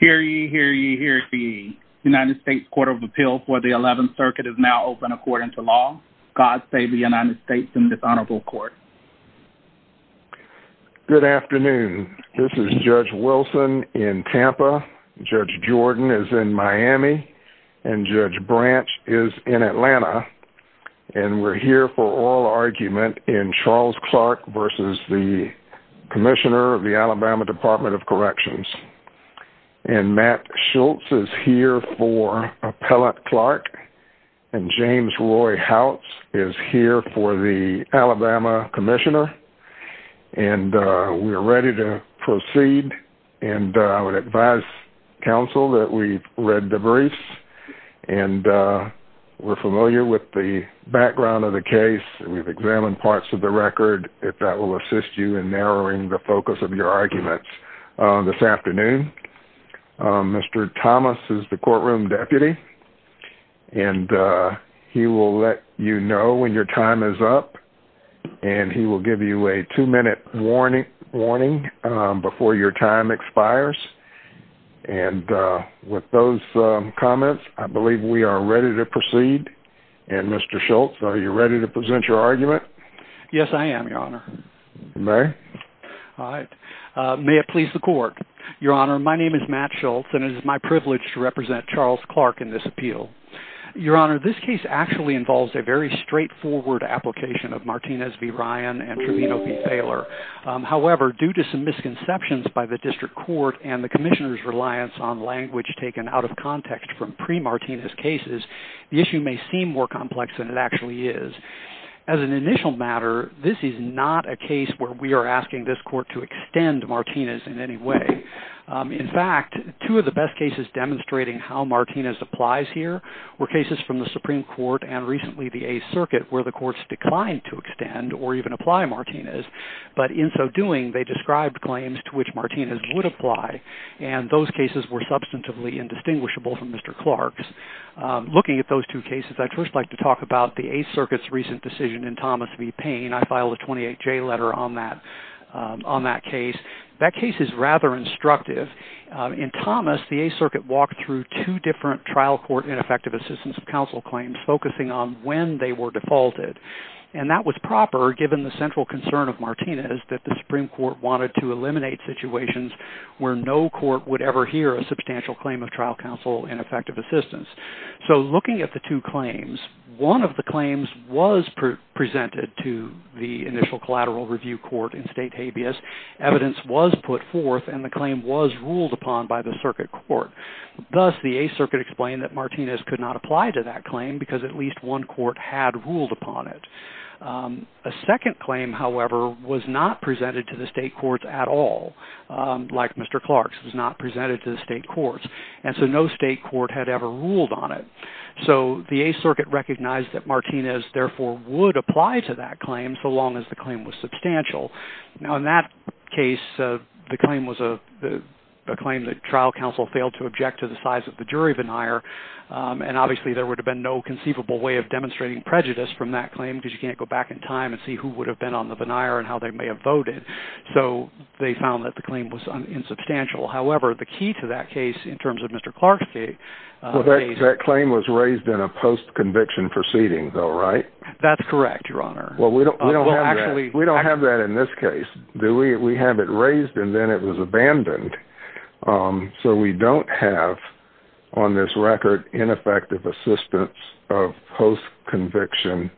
Hear ye, hear ye, hear ye. The United States Court of Appeals for the 11th Circuit is now open according to law. God save the United States and this honorable court. Good afternoon, this is Judge Wilson in Tampa, Judge Jordan is in Miami, and Judge Branch is in Atlanta, and we're here for oral argument in Charles Department of Corrections. And Matt Schultz is here for Appellate Clark, and James Roy Howitz is here for the Alabama Commissioner. And we're ready to proceed and I would advise counsel that we've read the briefs and we're familiar with the background of the case and we've examined parts of the record if that will assist you in narrowing the focus of your arguments this afternoon. Mr. Thomas is the courtroom deputy and he will let you know when your time is up and he will give you a two-minute warning before your time expires. And with those comments, I believe we are ready to proceed. And Mr. Schultz, are you ready to present your argument? Yes, I am, Your Honor. May it please the court. Your Honor, my name is Matt Schultz and it is my privilege to represent Charles Clark in this appeal. Your Honor, this case actually involves a very straightforward application of Martinez v. Ryan and Trevino v. Thaler. However, due to some misconceptions by the district court and the Commissioner's reliance on language taken out of context from pre-Martinez cases, the issue may seem more complex than it actually is. As an initial matter, this is not a case where we are asking this court to extend Martinez in any way. In fact, two of the best cases demonstrating how Martinez applies here were cases from the Supreme Court and recently the Eighth Circuit where the courts declined to extend or even apply Martinez. But in so doing, they described claims to which Martinez would apply and those cases were substantively indistinguishable from Mr. Clark's. Looking at those two cases, I'd first like to talk about the Eighth Circuit's recent decision in Thomas v. Payne. I filed a 28-J letter on that case. That case is rather instructive. In Thomas, the Eighth Circuit walked through two different trial court ineffective assistance of counsel claims focusing on when they were defaulted and that was proper given the central concern of Martinez that the Supreme Court wanted to eliminate situations where no court would ever hear a substantial claim of trial counsel ineffective assistance. So looking at the two claims, one of the claims was presented to the initial collateral review court in state habeas. Evidence was put forth and the claim was ruled upon by the circuit court. Thus the Eighth Circuit explained that Martinez could not apply to that claim because at least one court had ruled upon it. A second claim, however, was not presented to the state courts at all, like Mr. Clark's was not presented to the state courts and so no state court had ever ruled on it. So the Eighth Circuit recognized that Martinez therefore would apply to that claim so long as the claim was substantial. Now in that case, the claim was a claim that trial counsel failed to object to the size of the jury veneer and obviously there would have been no conceivable way of demonstrating prejudice from that claim because you can't go back in time and see who would have been on the veneer and how they may have voted. So they found that the claim was insubstantial. However, the key to that case in terms of Mr. Clark's case. Well, that claim was raised in a post-conviction proceeding though, right? That's correct, Your Honor. Well, we don't have that. We don't have that in this case, do we? We have it raised and then it was abandoned. So we don't have on this record ineffective assistance of post-conviction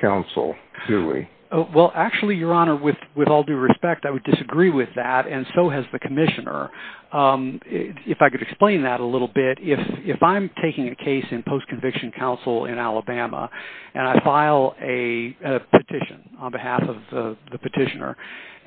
counsel, do we? Well, actually, Your Honor, with all due respect, I would disagree with that and so has the Commissioner. If I could explain that a little bit, if I'm taking a case in post-conviction counsel in Alabama and I file a petition on behalf of the petitioner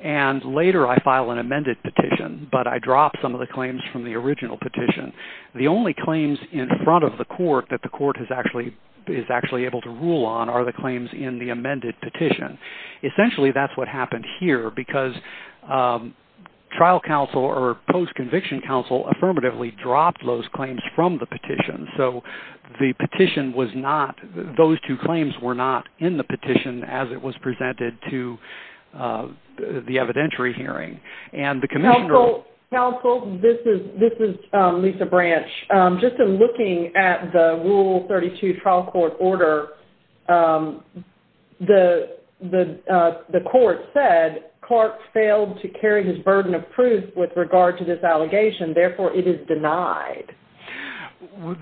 and later I file an amended petition but I drop some of the claims from the original petition, the only claims in front of the court that the court is actually able to rule on are the claims in the amended petition. Essentially, that's what happened here because trial counsel or post-conviction counsel affirmatively dropped those claims from the petition. So the petition was not, those two claims were not in the petition as it was presented to the evidentiary hearing and the Commissioner... Counsel, this is Lisa Branch. Just in looking at the Rule 32 trial court order, the court said Clark failed to carry his burden of proof with regard to this allegation. Therefore, it is denied.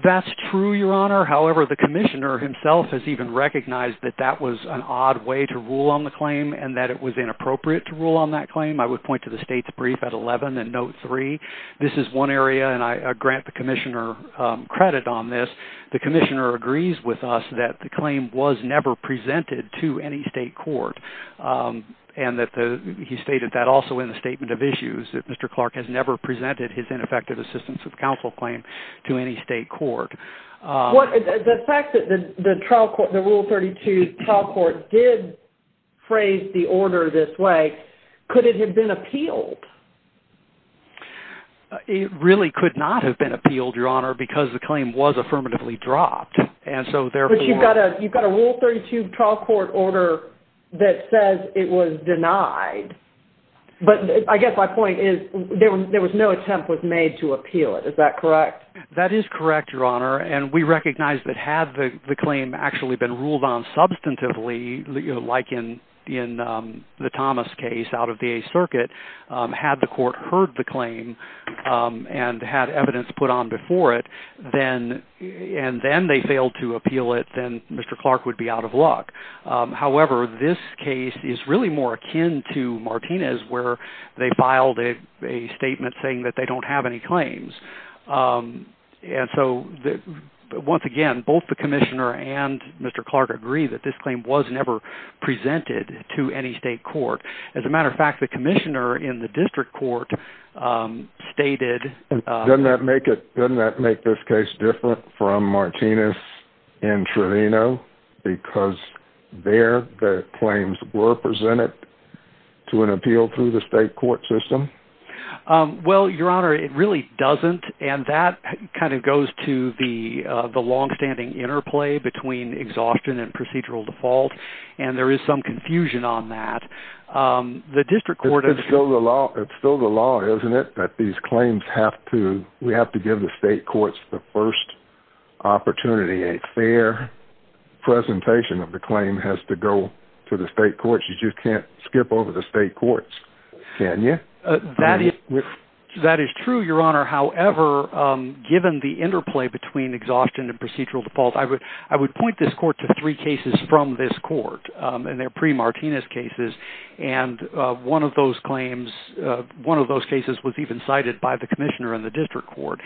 That's true, Your Honor. However, the Commissioner himself has even recognized that that was an odd way to rule on the claim and that it was inappropriate to rule on that claim. I would point to the state's brief at 11 and note 3. This is one area and I grant the Commissioner credit on this. The Commissioner agrees with us that the claim was never presented to any state court and that he stated that also in the Statement of Issues that Mr. Clark has never presented his ineffective assistance of counsel claim to any state court. The fact that the trial court, the Rule 32 trial court did phrase the order this way, could it have been appealed, Your Honor, because the claim was affirmatively dropped and so therefore... But you've got a Rule 32 trial court order that says it was denied, but I guess my point is there was no attempt was made to appeal it. Is that correct? That is correct, Your Honor, and we recognize that had the claim actually been ruled on substantively, like in the Thomas case out of the on before it, and then they failed to appeal it, then Mr. Clark would be out of luck. However, this case is really more akin to Martinez where they filed a statement saying that they don't have any claims. And so once again, both the Commissioner and Mr. Clark agree that this claim was never presented to any state court. As a matter of fact, the Commissioner in the district court stated... Doesn't that make it, doesn't that make this case different from Martinez in Trevino because there the claims were presented to an appeal through the state court system? Well, Your Honor, it really doesn't, and that kind of goes to the the long-standing interplay between exhaustion and procedural default, and there is some confusion on that. The district court... It's still the law, it's still the law, isn't it, that these claims have to, we have to give the state courts the first opportunity. A fair presentation of the claim has to go to the state courts. You just can't skip over the state courts, can you? That is true, Your Honor. However, given the interplay between exhaustion and procedural default, I would point this court to three cases from this case. One of those cases was even cited by the Commissioner in the district court.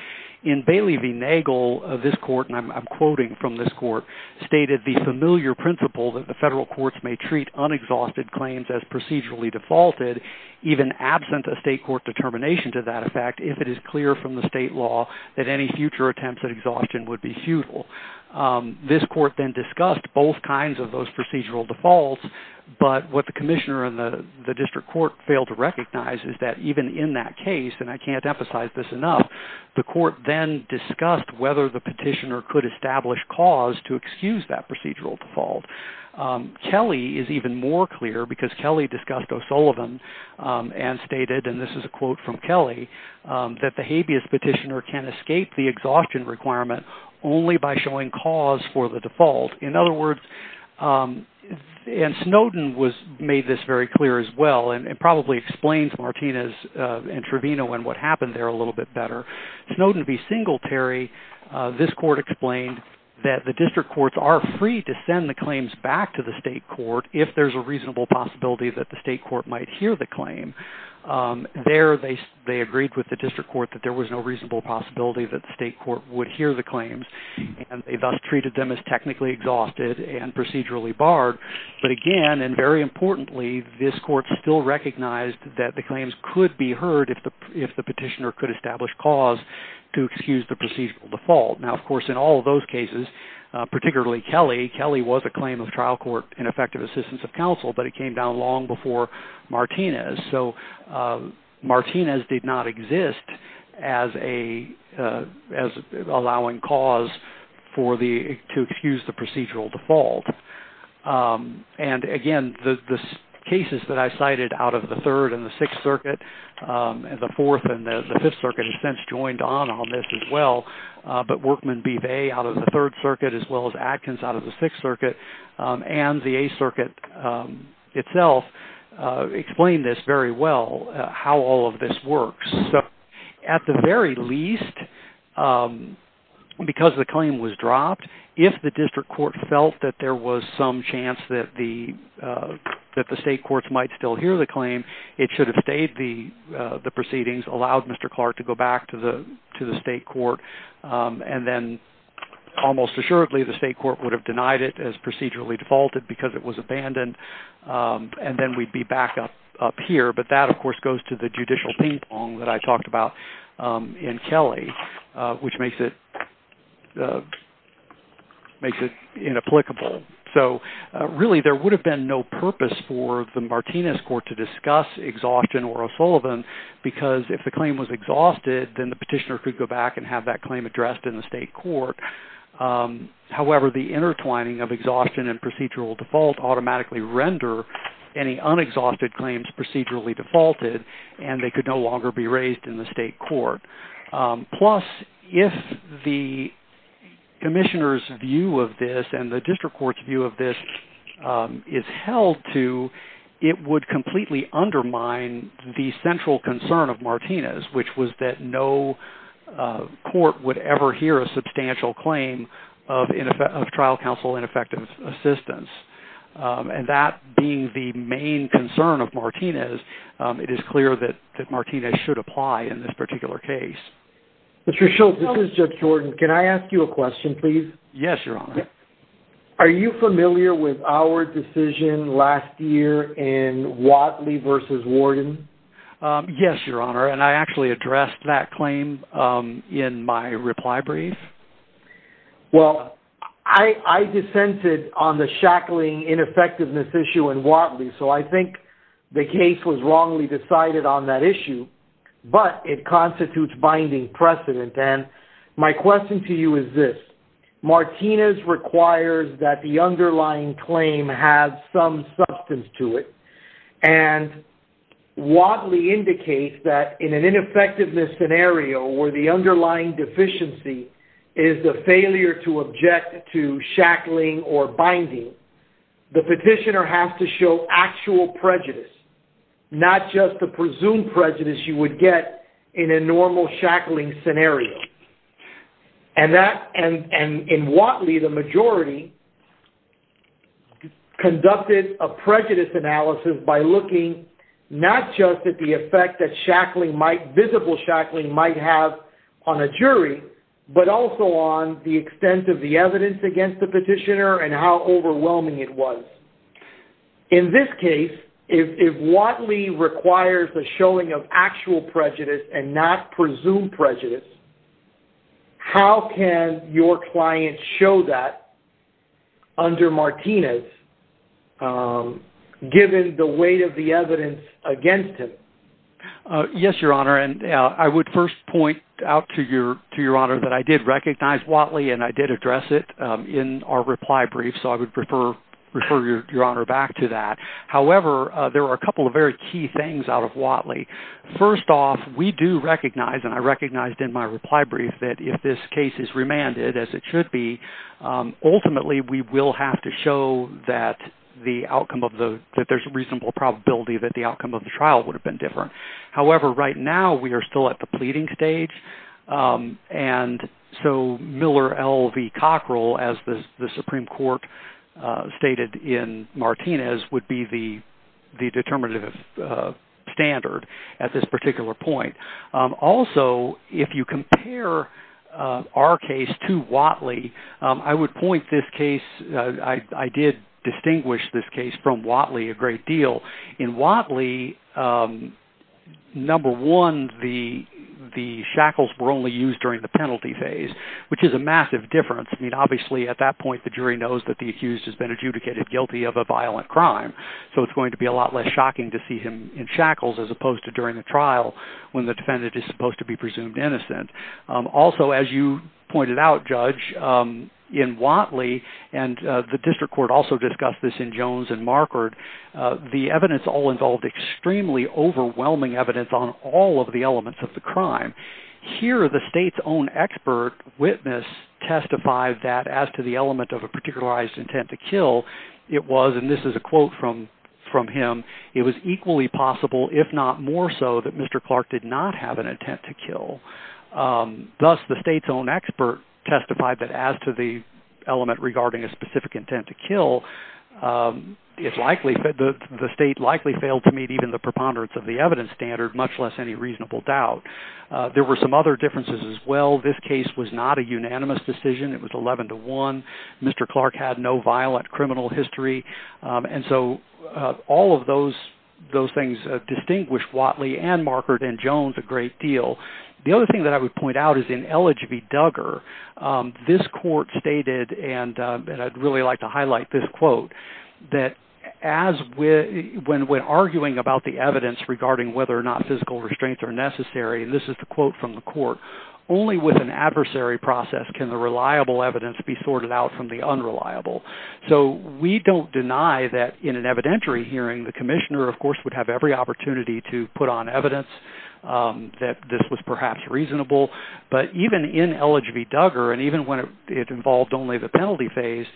In Bailey v. Nagel, this court, and I'm quoting from this court, stated the familiar principle that the federal courts may treat unexhausted claims as procedurally defaulted, even absent a state court determination to that effect, if it is clear from the state law that any future attempts at exhaustion would be futile. This court then discussed both kinds of those procedural defaults, but what the Commissioner and the district court failed to recognize is that even in that case, and I can't emphasize this enough, the court then discussed whether the petitioner could establish cause to excuse that procedural default. Kelly is even more clear, because Kelly discussed O'Sullivan and stated, and this is a quote from Kelly, that the habeas petitioner can escape the exhaustion requirement only by showing cause for the default. In other words, and Snowden made this very clear as well, and it probably explains Martinez and Trevino and what happened there a little bit better. Snowden to be singletary, this court explained that the district courts are free to send the claims back to the state court if there's a reasonable possibility that the state court might hear the claim. There, they agreed with the district court that there was no reasonable possibility that the state court would hear the claims, and they thus treated them as technically exhausted and procedurally barred, but again, and very importantly, this court still recognized that the claims could be heard if the petitioner could establish cause to excuse the procedural default. Now, of course, in all of those cases, particularly Kelly, Kelly was a claim of trial court in effective assistance of counsel, but it came down long before Martinez, so Martinez did not exist as allowing cause for the, to And again, the cases that I cited out of the Third and the Sixth Circuit, and the Fourth and the Fifth Circuit has since joined on on this as well, but Workman B. Bay out of the Third Circuit, as well as Atkins out of the Sixth Circuit, and the Eighth Circuit itself explained this very well, how all of this works. So, at the very least, because the claim was dropped, if the district court felt that there was some chance that the state courts might still hear the claim, it should have stayed the proceedings, allowed Mr. Clark to go back to the to the state court, and then almost assuredly, the state court would have denied it as procedurally defaulted because it was abandoned, and then we'd be back up here, but that, of course, goes to the judicial ping-pong that I talked about in Kelly, which makes it, makes it inapplicable. So, really, there would have been no purpose for the Martinez court to discuss exhaustion or O'Sullivan because if the claim was exhausted, then the petitioner could go back and have that claim addressed in the state court. However, the intertwining of exhaustion and procedural default automatically render any unexhausted claims procedurally defaulted, and they could no longer be raised in the state court. Plus, if the commissioner's view of this and the district court's view of this is held to, it would completely undermine the central concern of Martinez, which was that no court would ever hear a substantial claim of trial counsel ineffective assistance, and that being the main concern of Martinez, it is clear that Martinez should apply in this particular case. Mr. Schultz, this is Judge Jordan. Can I ask you a question, please? Yes, Your Honor. Are you familiar with our decision last year in Watley v. Warden? Yes, Your Honor, and I actually addressed that claim in my reply brief. Well, I dissented on the shackling ineffectiveness issue in Watley, so I believe the case was wrongly decided on that issue, but it constitutes binding precedent, and my question to you is this. Martinez requires that the underlying claim have some substance to it, and Watley indicates that in an ineffectiveness scenario where the underlying deficiency is the failure to not just the presumed prejudice you would get in a normal shackling scenario, and in Watley, the majority conducted a prejudice analysis by looking not just at the effect that shackling might, visible shackling might have on a jury, but also on the extent of the evidence against the petitioner and how Watley requires the showing of actual prejudice and not presumed prejudice. How can your client show that under Martinez given the weight of the evidence against him? Yes, Your Honor, and I would first point out to Your Honor that I did recognize Watley and I did address it in our reply brief, so I would refer Your Honor back to that. However, there are a couple of very key things out of Watley. First off, we do recognize, and I recognized in my reply brief, that if this case is remanded as it should be, ultimately we will have to show that the outcome of the, that there's a reasonable probability that the outcome of the trial would have been different. However, right now we are still at the pleading stage, and so Miller L. B. Cockrell, as the Supreme Court stated in Martinez, would be the determinative standard at this particular point. Also, if you compare our case to Watley, I would point this case, I did distinguish this case from Watley a great deal. In Watley, number one, the shackles were only used during the I mean, obviously at that point the jury knows that the accused has been adjudicated guilty of a violent crime, so it's going to be a lot less shocking to see him in shackles as opposed to during the trial when the defendant is supposed to be presumed innocent. Also, as you pointed out, Judge, in Watley, and the District Court also discussed this in Jones and Markard, the evidence all involved extremely overwhelming evidence on all of the elements of the crime. Here the state's own expert witness testified that, as to the element of a particularized intent to kill, it was, and this is a quote from him, it was equally possible, if not more so, that Mr. Clark did not have an intent to kill. Thus, the state's own expert testified that, as to the element regarding a specific intent to kill, the state likely failed to meet even the preponderance of the evidence standard, much less any reasonable doubt. There were some other differences as well. This case was not a unanimous decision. It was 11 to 1. Mr. Clark had no violent criminal history, and so all of those those things distinguished Watley and Markard and Jones a great deal. The other thing that I would point out is in L. H. V. Duggar, this court stated, and I'd really like to highlight this quote, that as when arguing about the evidence regarding whether or not physical restraints are necessary, and this is the quote from the court, only with an adversary process can the reliable evidence be sorted out from the unreliable. So we don't deny that in an evidentiary hearing, the commissioner, of course, would have every opportunity to put on evidence that this was perhaps reasonable, but even in L. H. V. Duggar, and even when it involved only the penalty phase,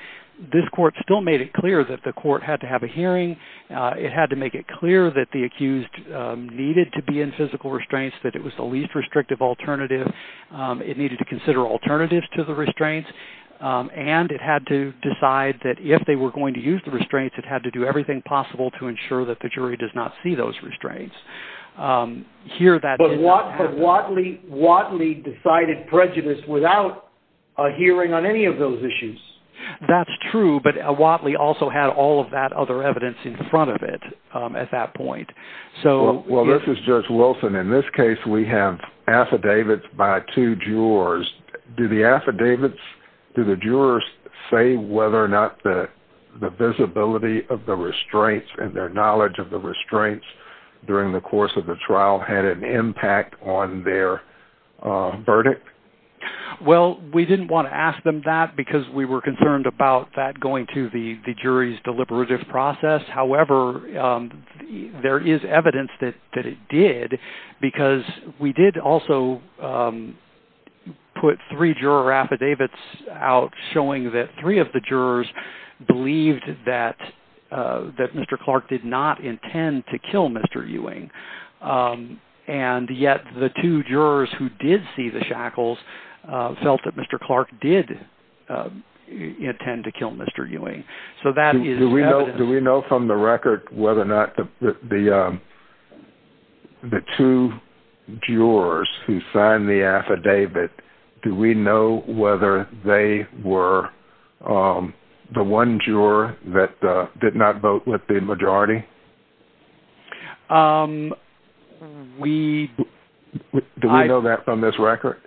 this court still made it clear that the court had to have a hearing. It had to make it clear that the accused needed to be in physical restraints, that it was the least restrictive alternative, it needed to consider alternatives to the restraints, and it had to decide that if they were going to use the restraints, it had to do everything possible to ensure that the jury does not see those restraints. But Watley decided prejudice without a hearing on any of those issues. That's true, but Watley also had all of that other evidence in front of it at that point. Well, this is Judge Wilson. In this case, we have affidavits by two jurors. Do the affidavits, do the jurors say whether or not the visibility of the restraints and their knowledge of the restraints during the course of the trial had an impact on their verdict? Well, we didn't want to ask them that because we were concerned about that jury's deliberative process. However, there is evidence that it did because we did also put three juror affidavits out showing that three of the jurors believed that Mr. Clark did not intend to kill Mr. Ewing, and yet the two jurors who did see the shackles felt that Mr. Clark did intend to kill Mr. Ewing. Do we know from the record whether or not the two jurors who signed the affidavit, do we know whether they were the one juror that did not vote with the majority? Do we know that from this record?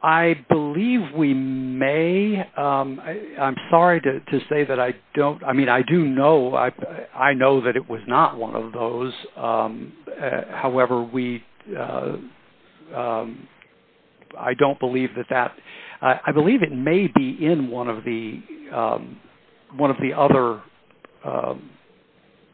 I believe we may. I'm sorry to say that I don't, I mean, I do know, I know that it was not one of those. However, I don't believe that that, I believe it may be in one of the one of the other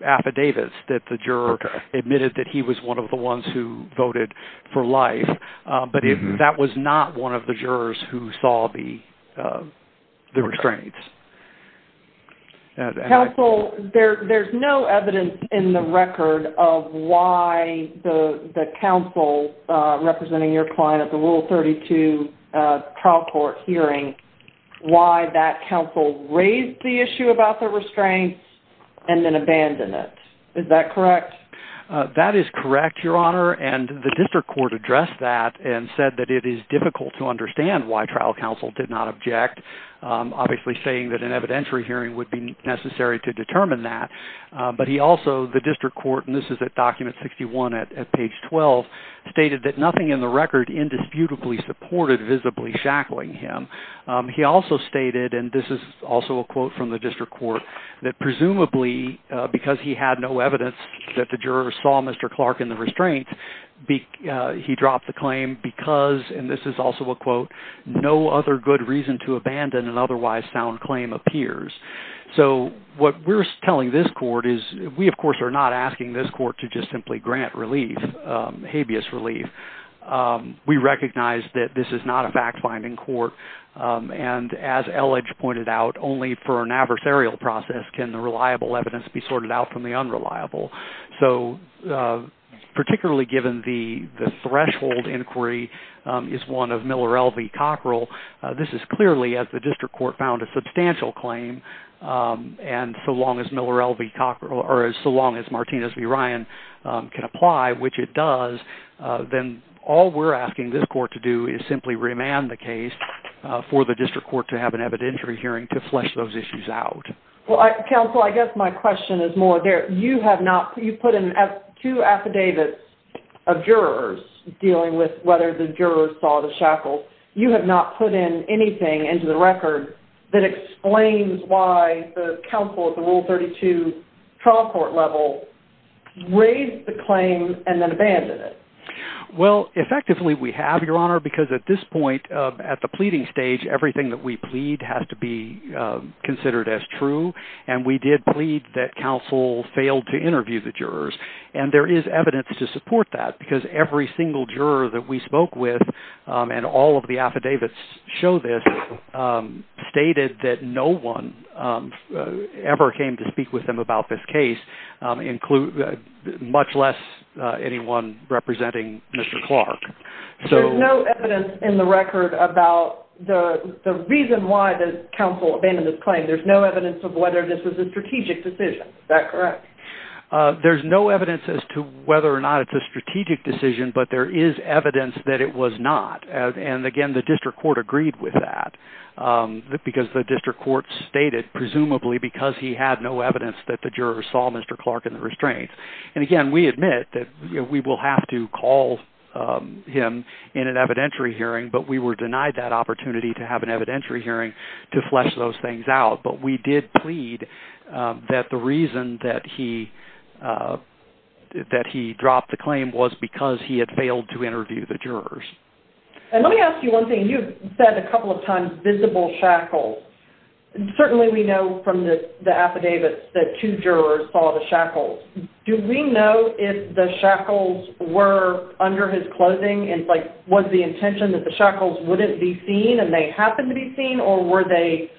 affidavits that the juror admitted that he was one of the ones who voted for life, but that was not one of the jurors who saw the restraints. Counsel, there's no evidence in the record of why the counsel representing your client at the Rule 32 trial court hearing, why that counsel raised the issue about the restraints and then abandoned it. Is that correct? That is correct, Your Honor, and the district court addressed that and said that it is difficult to understand why trial counsel did not object, obviously saying that an evidentiary hearing would be necessary to determine that, but he also, the district court, and this is at document 61 at page 12, stated that nothing in the record indisputably supported visibly shackling him. He also stated, and this is also a quote from the district court, that presumably because he had no evidence that the juror saw Mr. Clark in the restraints, he dropped the claim because, and this is also a quote, no other good reason to abandon an otherwise sound claim appears. So what we're telling this court is, we of course are not asking this court to just simply grant relief, habeas relief. We recognize that this is not a fact-finding court, and as Elledge pointed out, only for an adversarial process can the reliable evidence be the case for the district court to have an evidentiary hearing to flesh those issues out. Counsel, I guess my question is more, you have not, you put in two affidavits of whether the jurors saw the shackles. You have not put in anything into the record that explains why the counsel at the Rule 32 trial court level raised the claim and then abandoned it. Well, effectively we have, Your Honor, because at this point, at the pleading stage, everything that we plead has to be considered as true, and we did plead that counsel failed to interview the jurors, and there is evidence to support that, because every single juror that we spoke with, and all of the affidavits show this, stated that no one ever came to speak with them about this case, much less anyone representing Mr. Clark. There's no evidence in the record about the reason why the counsel abandoned this claim. There's no evidence of whether this was a strategic decision. Is that correct? There's no evidence as to whether or not it's a strategic decision, but there is evidence that it was not, and again, the district court agreed with that, because the district court stated, presumably, because he had no evidence that the jurors saw Mr. Clark in the restraints, and again, we admit that we will have to call him in an evidentiary hearing, but we were denied that opportunity to have an evidentiary hearing to flesh those things out, but we did plead that the reason that he dropped the claim was because he had failed to interview the jurors. And let me ask you one thing. You've said a couple of times, visible shackles. Certainly, we know from the affidavits that two jurors saw the shackles. Do we know if the shackles were under his clothing, and was the intention that the shackles wouldn't be seen, and they happened to be seen, or were they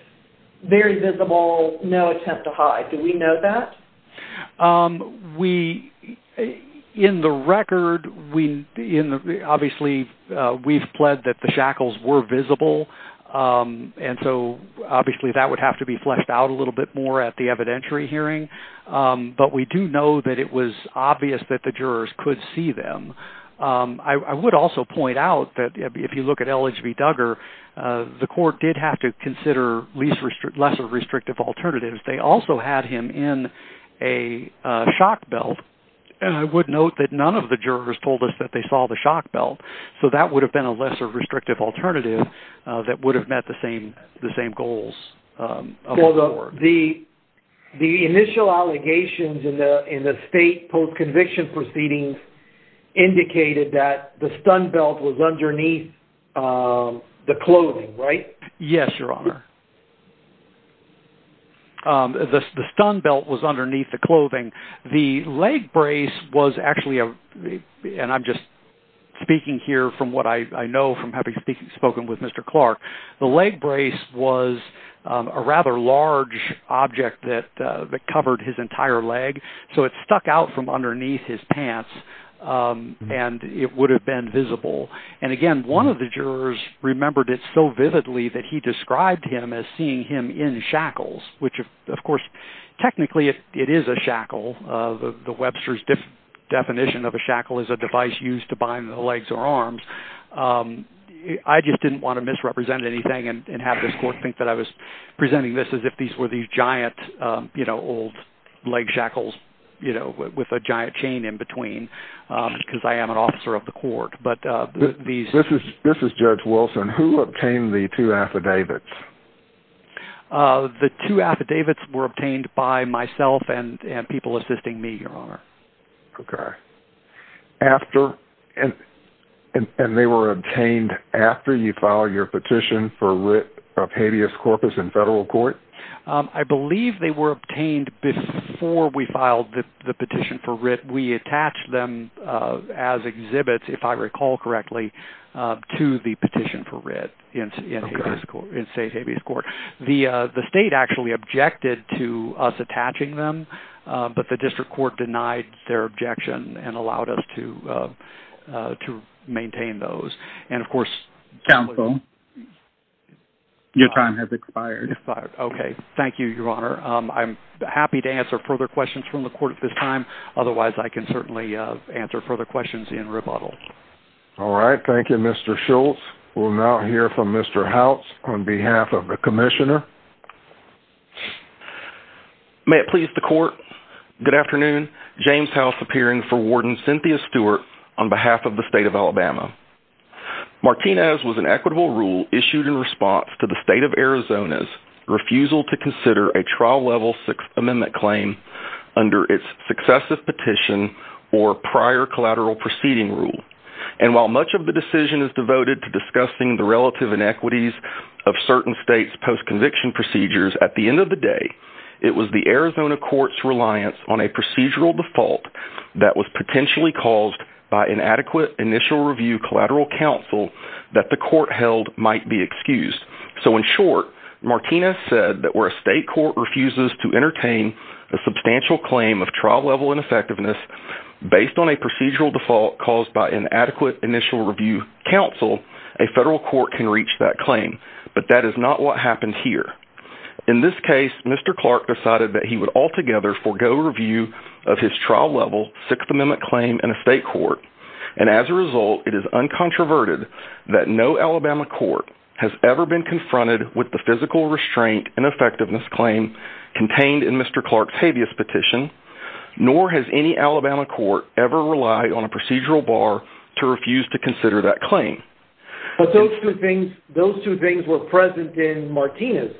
very visible in that? In the record, obviously, we've pled that the shackles were visible, and so obviously that would have to be fleshed out a little bit more at the evidentiary hearing, but we do know that it was obvious that the jurors could see them. I would also point out that if you look at LHB Duggar, the court did have to consider lesser restrictive alternatives. They also had him in a shock belt, and I would note that none of the jurors told us that they saw the shock belt, so that would have been a lesser restrictive alternative that would have met the same goals. So the initial allegations in the state post-conviction proceedings indicated that the stun belt was underneath the clothing. The leg brace was actually a, and I'm just speaking here from what I know from having spoken with Mr. Clark, the leg brace was a rather large object that covered his entire leg, so it stuck out from underneath his pants, and it would have been visible. And again, one of the jurors remembered it so vividly that he described him as seeing him in shackles, which, of course, technically it is a shackle. The Webster's definition of a shackle is a device used to bind the legs or arms. I just didn't want to misrepresent anything and have this court think that I was presenting this as if these were these giant, you know, old leg shackles, you know, with a giant chain in between, because I am an officer of the court. But these... This is Judge Wilson. Who obtained the two affidavits? The two affidavits were obtained by myself and people assisting me, Your Honor. Okay. After... And they were obtained after you filed your petition for writ of habeas corpus in federal court? I believe they were obtained before we filed the petition for writ. We attached them as exhibits, if I recall correctly, to the petition for writ in state habeas court. The state actually objected to us attaching them, but the district court denied their objection and allowed us to maintain those. And of course... Counsel, your time has expired. Okay. Thank you, Your Honor. I'm happy to answer further questions from the court at this time. Otherwise, I can certainly answer further questions in All right. Thank you, Mr. Schultz. We'll now hear from Mr. House on behalf of the commissioner. May it please the court. Good afternoon. James House appearing for Warden Cynthia Stewart on behalf of the state of Alabama. Martinez was an equitable rule issued in response to the state of Arizona's refusal to consider a trial level six amendment claim under its successive petition or prior collateral proceeding rule. And while much of the decision is devoted to discussing the relative inequities of certain states post-conviction procedures, at the end of the day, it was the Arizona court's reliance on a procedural default that was potentially caused by inadequate initial review collateral counsel that the court held might be excused. So in short, Martinez said that where a state court refuses to entertain a substantial claim of trial level ineffectiveness based on a procedural default caused by inadequate initial review counsel, a federal court can reach that claim. But that is not what happened here. In this case, Mr. Clark decided that he would altogether forego review of his trial level sixth amendment claim in a state court. And as a result, it is uncontroverted that no Alabama court has ever been confronted with the physical restraint and effectiveness claim contained in Mr. Clark's habeas petition, nor has any Alabama court ever relied on a procedural bar to refuse to consider that claim. But those two things, those two things were present in Martinez.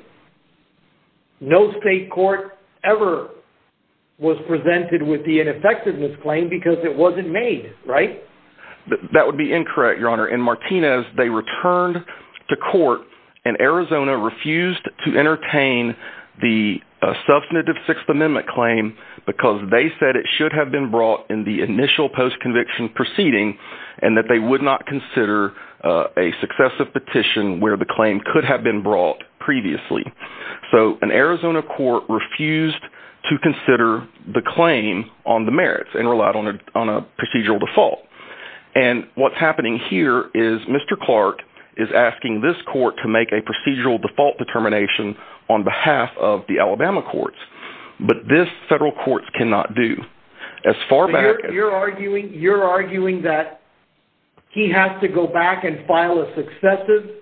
No state court ever was presented with the ineffectiveness claim because it wasn't made, right? That would be incorrect, Your Honor. In Martinez, they returned to court and Arizona refused to entertain the substantive sixth amendment claim because they said it should have been brought in the initial post conviction proceeding and that they would not consider a successive petition where the claim could have been brought previously. So an Arizona court refused to consider the claim on the merits and relied on a procedural default. And what's happening here is Mr. Clark is asking this court to make a procedural default determination on behalf of the Alabama courts, but this federal courts cannot do as far back as you're arguing. You're arguing that he has to go back and file a successive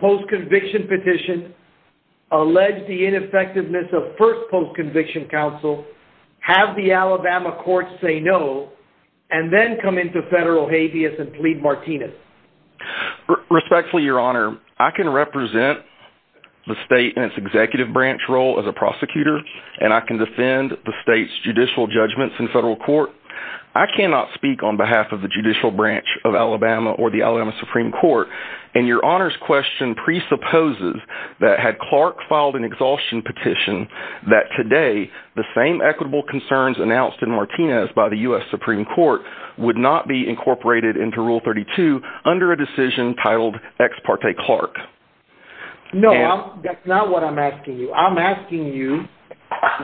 post conviction petition, allege the ineffectiveness of first post conviction counsel, have the Alabama courts say no, and then come into federal habeas and plead Martinez respectfully, Your Honor. I can represent the state and its executive branch role as a prosecutor, and I can defend the state's judicial judgments in federal court. I cannot speak on behalf of the judicial branch of Alabama or the Alabama Supreme Court. And Your Honor's question presupposes that had Clark filed an exhaustion petition that today the same equitable concerns announced in Martinez by the U.S. Supreme Court would not be incorporated into rule 32 under a decision titled ex parte Clark. No, that's not what I'm asking you. I'm asking you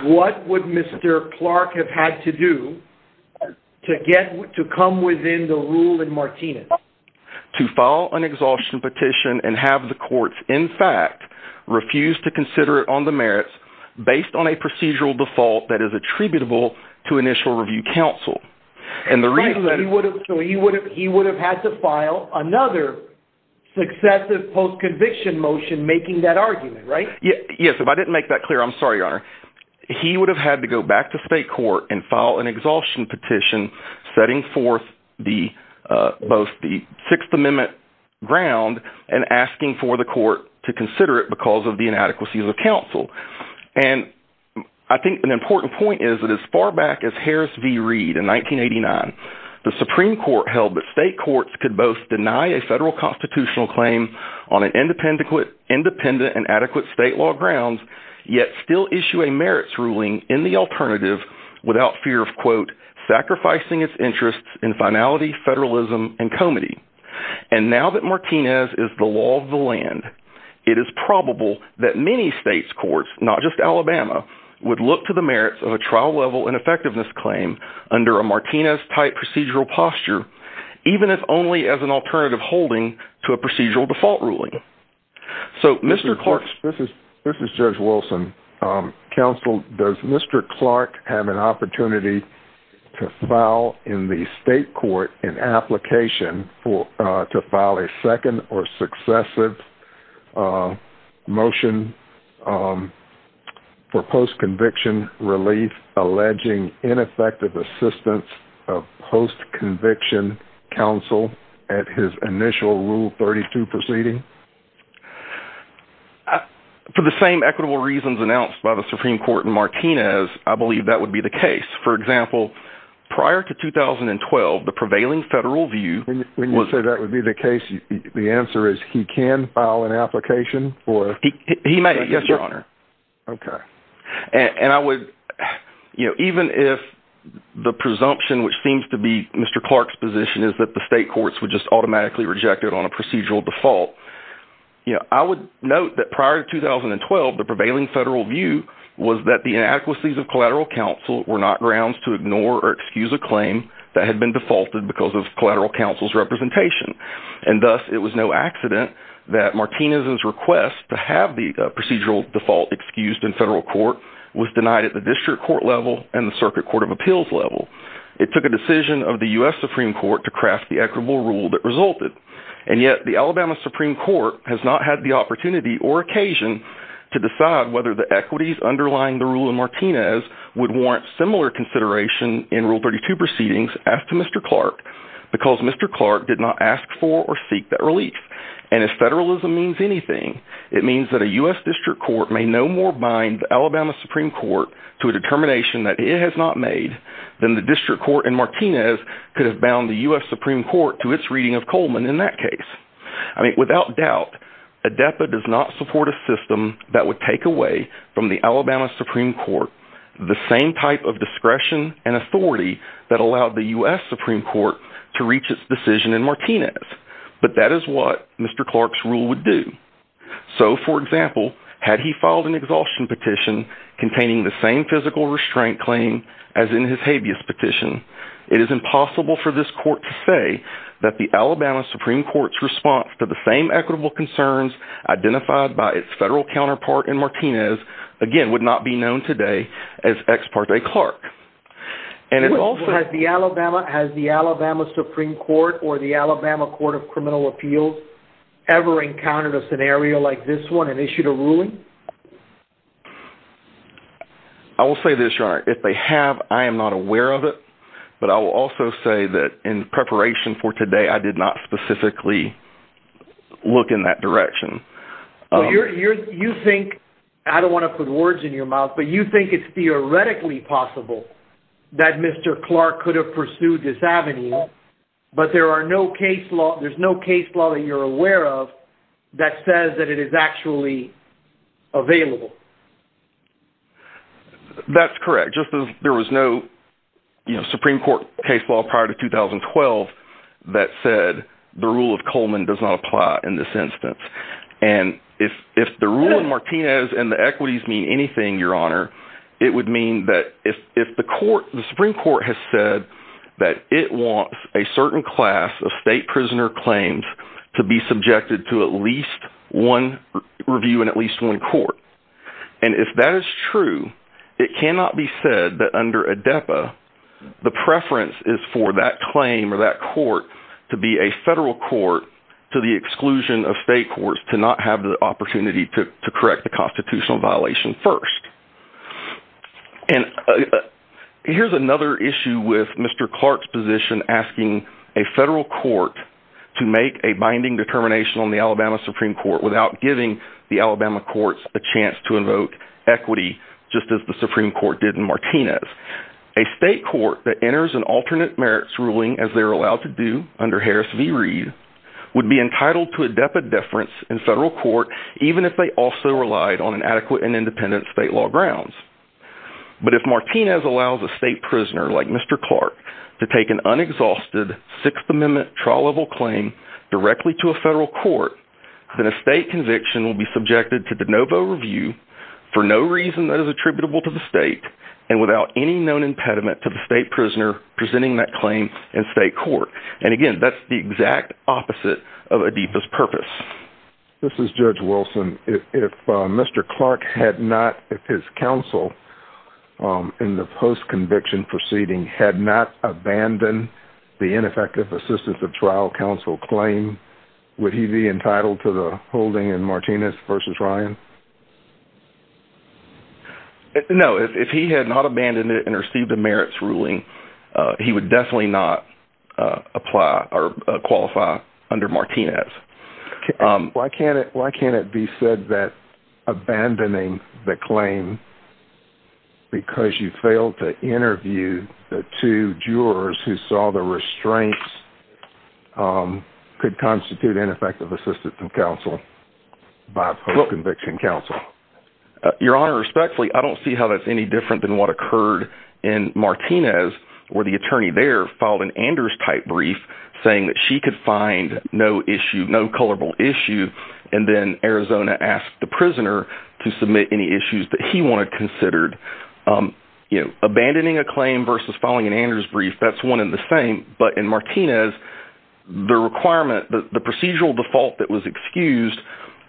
what would Mr. Clark have had to do to get to come within the rule in Martinez to file an exhaustion petition and have the courts in fact refuse to consider it on the merits based on a procedural default that is attributable to initial review counsel. He would have had to file another successive post conviction motion making that argument, right? Yes, if I didn't make that clear, I'm sorry, Your Honor. He would have had to go back to state court and file an exhaustion petition setting forth both the Sixth Amendment ground and asking for the court to consider it because of the inadequacies of counsel. And I think an important point is that as far back as Harris v. Reed in 1989, the Supreme Court held that state courts could both deny a federal constitutional claim on an independent and adequate state law grounds, yet still issue a merits ruling in the alternative without fear of quote, sacrificing its interests in finality, federalism, and comity. And now that Martinez is the law of the land, it is probable that many states' courts, not just Alabama, would look to the merits of a trial level ineffectiveness claim under a Martinez-type procedural posture, even if only as an alternative holding to a procedural default ruling. So Mr. Clark... This is Judge Wilson. Counsel, does Mr. Clark have an opportunity to state court in application to file a second or successive motion for post-conviction relief alleging ineffective assistance of post-conviction counsel at his initial Rule 32 proceeding? For the same equitable reasons announced by the Supreme Court in Martinez, I believe that would be the case. For example, prior to 2012, the prevailing federal view... When you say that would be the case, the answer is he can file an application for... He may, Your Honor. Okay. And I would... Even if the presumption, which seems to be Mr. Clark's position, is that the state courts would just automatically reject it on a procedural default, I would note that prior to 2012, the prevailing federal view was that the inadequacies of collateral counsel were not grounds to ignore or excuse a claim that had been defaulted because of collateral counsel's representation. And thus, it was no accident that Martinez's request to have the procedural default excused in federal court was denied at the district court level and the circuit court of appeals level. It took a decision of the U.S. Supreme Court to craft the equitable rule that resulted. And yet, the Alabama Supreme Court has not had the opportunity or occasion to decide whether the equities underlying the rule in Martinez would warrant similar consideration in Rule 32 proceedings as to Mr. Clark, because Mr. Clark did not ask for or seek that relief. And if federalism means anything, it means that a U.S. district court may no more bind the Alabama Supreme Court to a determination that it has not made than the district court in Martinez could have bound the U.S. Supreme Court to its reading of Coleman in that case. Without doubt, ADEPA does not support a system that would take away from the Alabama Supreme Court the same type of discretion and authority that allowed the U.S. Supreme Court to reach its decision in Martinez. But that is what Mr. Clark's rule would do. So, for example, had he filed an exhaustion petition containing the same physical restraint claim as in his habeas petition, it is impossible for this court to say that the Alabama Supreme Court's response to the same equitable concerns identified by its federal counterpart in Martinez, again, would not be known today as ex parte Clark. And it also has the Alabama Supreme Court or the Alabama Court of Criminal Appeals ever encountered a scenario like this one and issued a ruling? I will say this, Your Honor. If they have, I am not aware of it. But I will also say that in preparation for today, I did not specifically look in that direction. So, you think, I don't want to put words in your mouth, but you think it's theoretically possible that Mr. Clark could have pursued this avenue, but there are no case law, there's no case law you're aware of that says that it is actually available? That's correct. Just as there was no, you know, Supreme Court case law prior to 2012 that said the rule of Coleman does not apply in this instance. And if the rule in Martinez and the equities mean anything, Your Honor, it would mean that if the Supreme Court has said that it wants a certain class of state prisoner claims to be subjected to at least one review in at least one court. And if that is true, it cannot be said that under ADEPA, the preference is for that claim or that court to be a federal court to the exclusion of state courts to not have the opportunity to correct the constitutional violation first. And here's another issue with Mr. Clark's position asking a federal court to make a binding determination on the Alabama Supreme Court without giving the Alabama courts a chance to invoke equity, just as the Supreme Court did in Martinez. A state court that enters an alternate merits ruling as they're allowed to do under Harris v. Reed would be entitled to ADEPA deference in federal court, even if they also relied on an adequate and independent state law grounds. But if Martinez allows a state prisoner like Mr. Clark to take an unexhausted Sixth Amendment trial level claim directly to a federal court, then a state conviction will be subjected to de novo review for no reason that is attributable to the state and without any known impediment to the state prisoner presenting that claim in state court. And again, that's the exact opposite of ADEPA's purpose. This is Judge Wilson. If Mr. Clark's conviction proceeding had not abandoned the ineffective assistance of trial counsel claim, would he be entitled to the holding in Martinez v. Ryan? No, if he had not abandoned it and received the merits ruling, he would definitely not apply or qualify under Martinez. Okay. Why can't it be said that abandoning the claim because you failed to interview the two jurors who saw the restraints could constitute ineffective assistance from counsel by post-conviction counsel? Your Honor, respectfully, I don't see how that's any different than what occurred in Martinez, where the attorney there filed an Anders-type brief saying that she could find no culpable issue, and then Arizona asked the prisoner to submit any issues that he wanted considered. Abandoning a claim versus filing an Anders brief, that's one and the same. But in Martinez, the requirement, the procedural default that was excused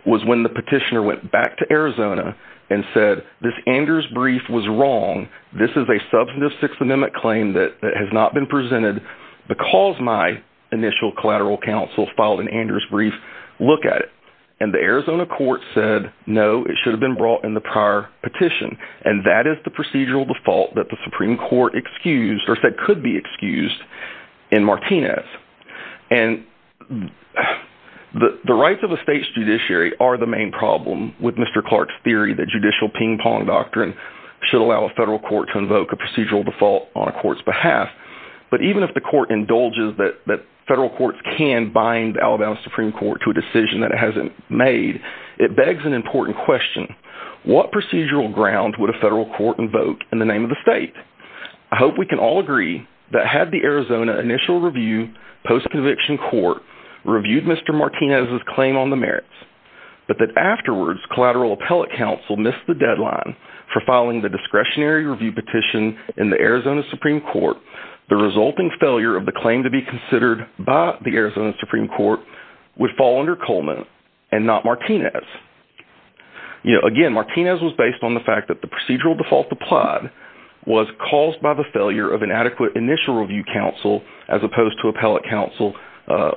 was when the petitioner went back to Arizona and said, this Anders brief was wrong. This is a substantive Sixth Amendment claim that has not been presented because my initial collateral counsel filed an Anders brief. Look at it. And the Arizona court said, no, it should have been brought in the prior petition. And that is the procedural default that the Supreme Court excused or said could be excused in Martinez. And the rights of the state's judiciary are the main problem with Mr. Clark's theory that judicial ping pong doctrine should allow a federal court to invoke a procedural default on a court's behalf. But even if the court indulges that federal courts can bind Alabama's Supreme Court to a decision that it hasn't made, it begs an important question. What procedural ground would a federal court invoke in the name of the state? I hope we can all agree that had the Arizona initial review post-conviction court reviewed Mr. Martinez's claim on the merits, but that afterwards collateral appellate counsel missed the deadline for filing the discretionary review petition in the Arizona Supreme Court, the resulting failure of the claim to be considered by the Arizona Supreme Court would fall under Coleman and not Martinez. Again, Martinez was based on the fact that the procedural default applied was caused by the failure of an adequate initial review counsel as opposed to appellate counsel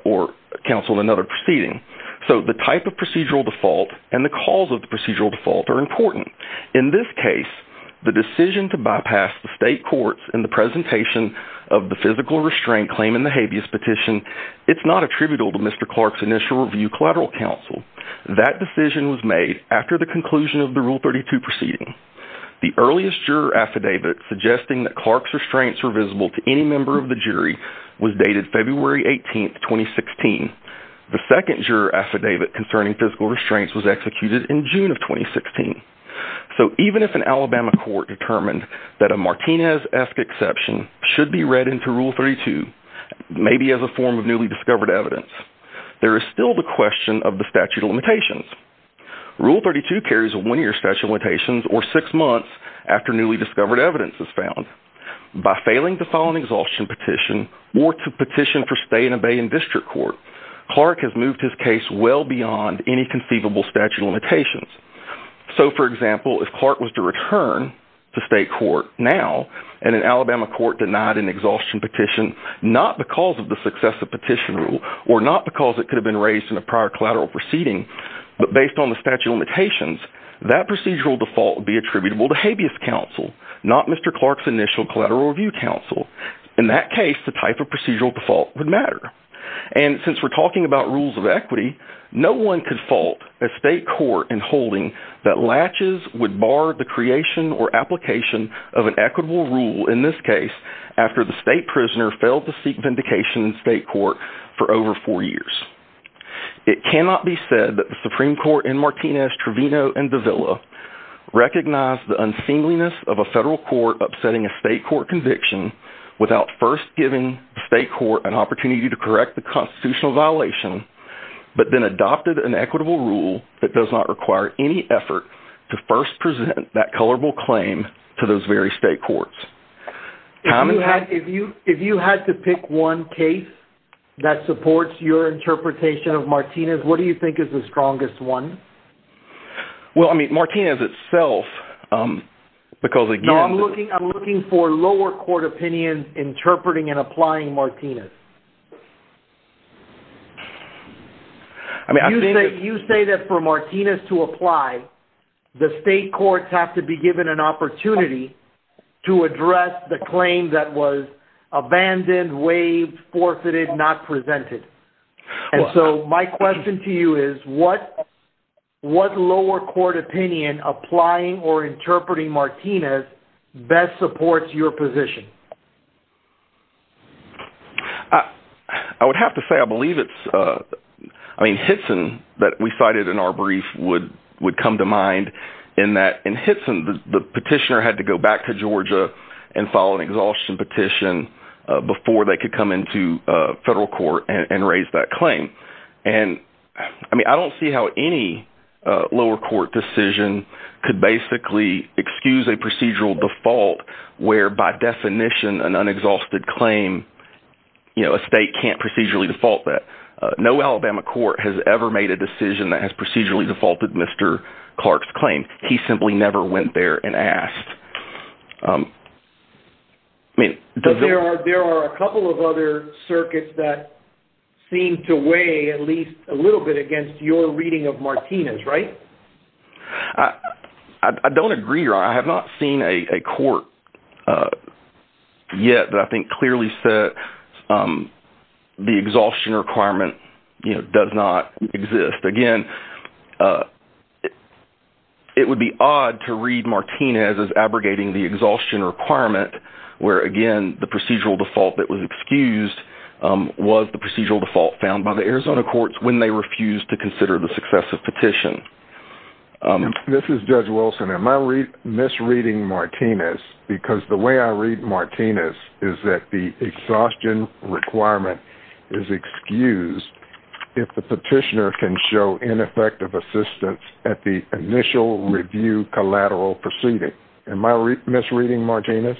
or counsel in another proceeding. So the type of procedural default and the cause of the procedural default are important. In this case, the decision to bypass the state courts in the presentation of the physical restraint claim in the habeas petition, it's not attributable to Mr. Clark's initial review collateral counsel. That decision was made after the conclusion of the Rule 32 proceeding. The earliest juror affidavit suggesting that Clark's restraints were visible to any member of the jury was dated February 18, 2016. The second juror affidavit concerning physical restraints was executed in court determined that a Martinez-esque exception should be read into Rule 32, maybe as a form of newly discovered evidence. There is still the question of the statute of limitations. Rule 32 carries a one-year statute of limitations or six months after newly discovered evidence is found. By failing to file an exhaustion petition or to petition for stay and abate in district court, Clark has moved his case well beyond any conceivable statute of limitations. So for example, if Clark was to return to state court now and an Alabama court denied an exhaustion petition, not because of the successive petition rule or not because it could have been raised in a prior collateral proceeding, but based on the statute of limitations, that procedural default would be attributable to habeas counsel, not Mr. Clark's initial collateral review counsel. In that case, the type of procedural default would matter. And since we're talking about rules of holding, that latches would bar the creation or application of an equitable rule in this case after the state prisoner failed to seek vindication in state court for over four years. It cannot be said that the Supreme Court in Martinez, Trevino, and Davila recognized the unseemliness of a federal court upsetting a state court conviction without first giving the state court an opportunity to correct the constitutional violation, but then adopted an equitable rule that does not require any effort to first present that colorable claim to those very state courts. If you had to pick one case that supports your interpretation of Martinez, what do you think is the strongest one? Well, I mean, Martinez itself, because again- No, I'm looking for lower court opinions interpreting and applying Martinez. I mean, I think- You say that for Martinez to apply, the state courts have to be given an opportunity to address the claim that was abandoned, waived, forfeited, not presented. And so my question to you is, what lower court opinion applying or interpreting Martinez best supports your position? I would have to say, I believe it's, I mean, Hitson that we cited in our brief would come to mind in that, in Hitson, the petitioner had to go back to Georgia and file an exhaustion petition before they could come into federal court and raise that claim. And I mean, I don't see how any lower court decision could basically excuse a procedural default where, by definition, an unexhausted claim, a state can't procedurally default that. No Alabama court has ever made a decision that has procedurally defaulted Mr. Clark's claim. He simply never went there and asked. There are a couple of other circuits that seem to weigh at least a little bit against your reading of Martinez, right? I don't agree or I have not seen a court yet that I think clearly said the exhaustion requirement does not exist. Again, it would be odd to read Martinez as abrogating the exhaustion requirement, where again, the procedural default that was excused was the procedural default found by the Arizona courts when they refused to consider the successive petition. This is Judge Wilson. Am I misreading Martinez? Because the way I read Martinez is that the exhaustion requirement is excused if the petitioner can show ineffective assistance at the initial review collateral proceeding. Am I misreading Martinez?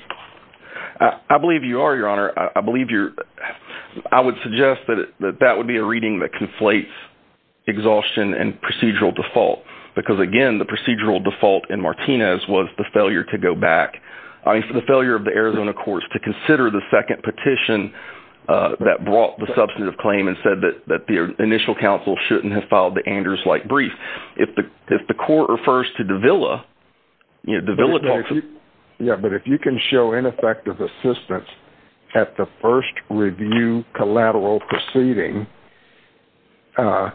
I believe you are, your honor. I would suggest that that would be a reading that conflates exhaustion and procedural default, because again, the procedural default in Martinez was the failure to go back. I mean, for the failure of the Arizona courts to consider the second petition that brought the substantive claim and said that the initial counsel shouldn't have filed the Anders-like brief. If the court refers to Davila, you know, Davila talks about- Yeah, but if you can show ineffective assistance at the first review collateral proceeding, that's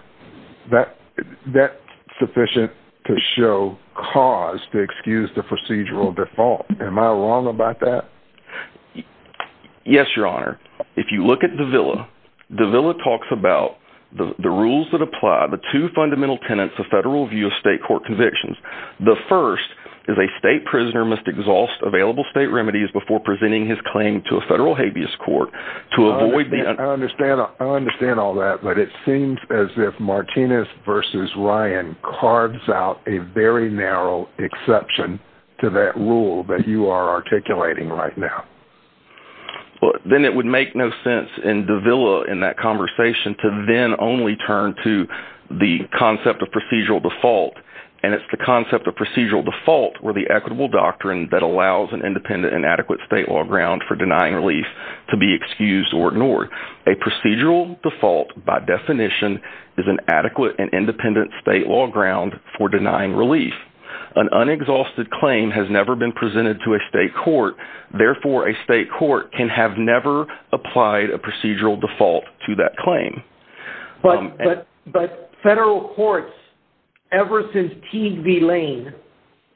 sufficient to show cause to excuse the procedural default. Am I wrong about that? Yes, your honor. If you look at Davila, Davila talks about the rules that apply, the two fundamental tenets of federal review of state court convictions. The first is a state prisoner must exhaust available state remedies before presenting his claim to a federal habeas court to avoid the- I understand all that, but it seems as if Martinez versus Ryan carves out a very narrow exception to that rule that you are articulating right now. Then it would make no sense in Davila in that conversation to then only turn to the concept of procedural default, and it's the concept of procedural default or the equitable doctrine that allows an independent and adequate state law ground for denying relief to be excused or ignored. A procedural default, by definition, is an adequate and independent state law ground for denying relief. An unexhausted claim has never been presented to a state court. Therefore, a state court can have never applied a procedural default to that claim. But federal courts ever since Teague v. Lane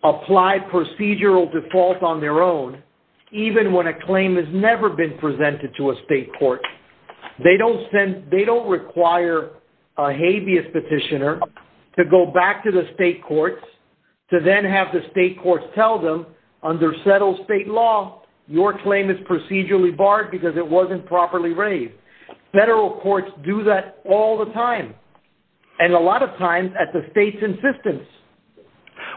applied procedural default on their own, even when a claim has never been presented to a state court, they don't require a habeas petitioner to go back to the state courts to then have the state courts tell them, under settled state law, your claim is procedurally barred because it wasn't properly raised. Federal courts do that all the time, and a lot of times at the state's insistence.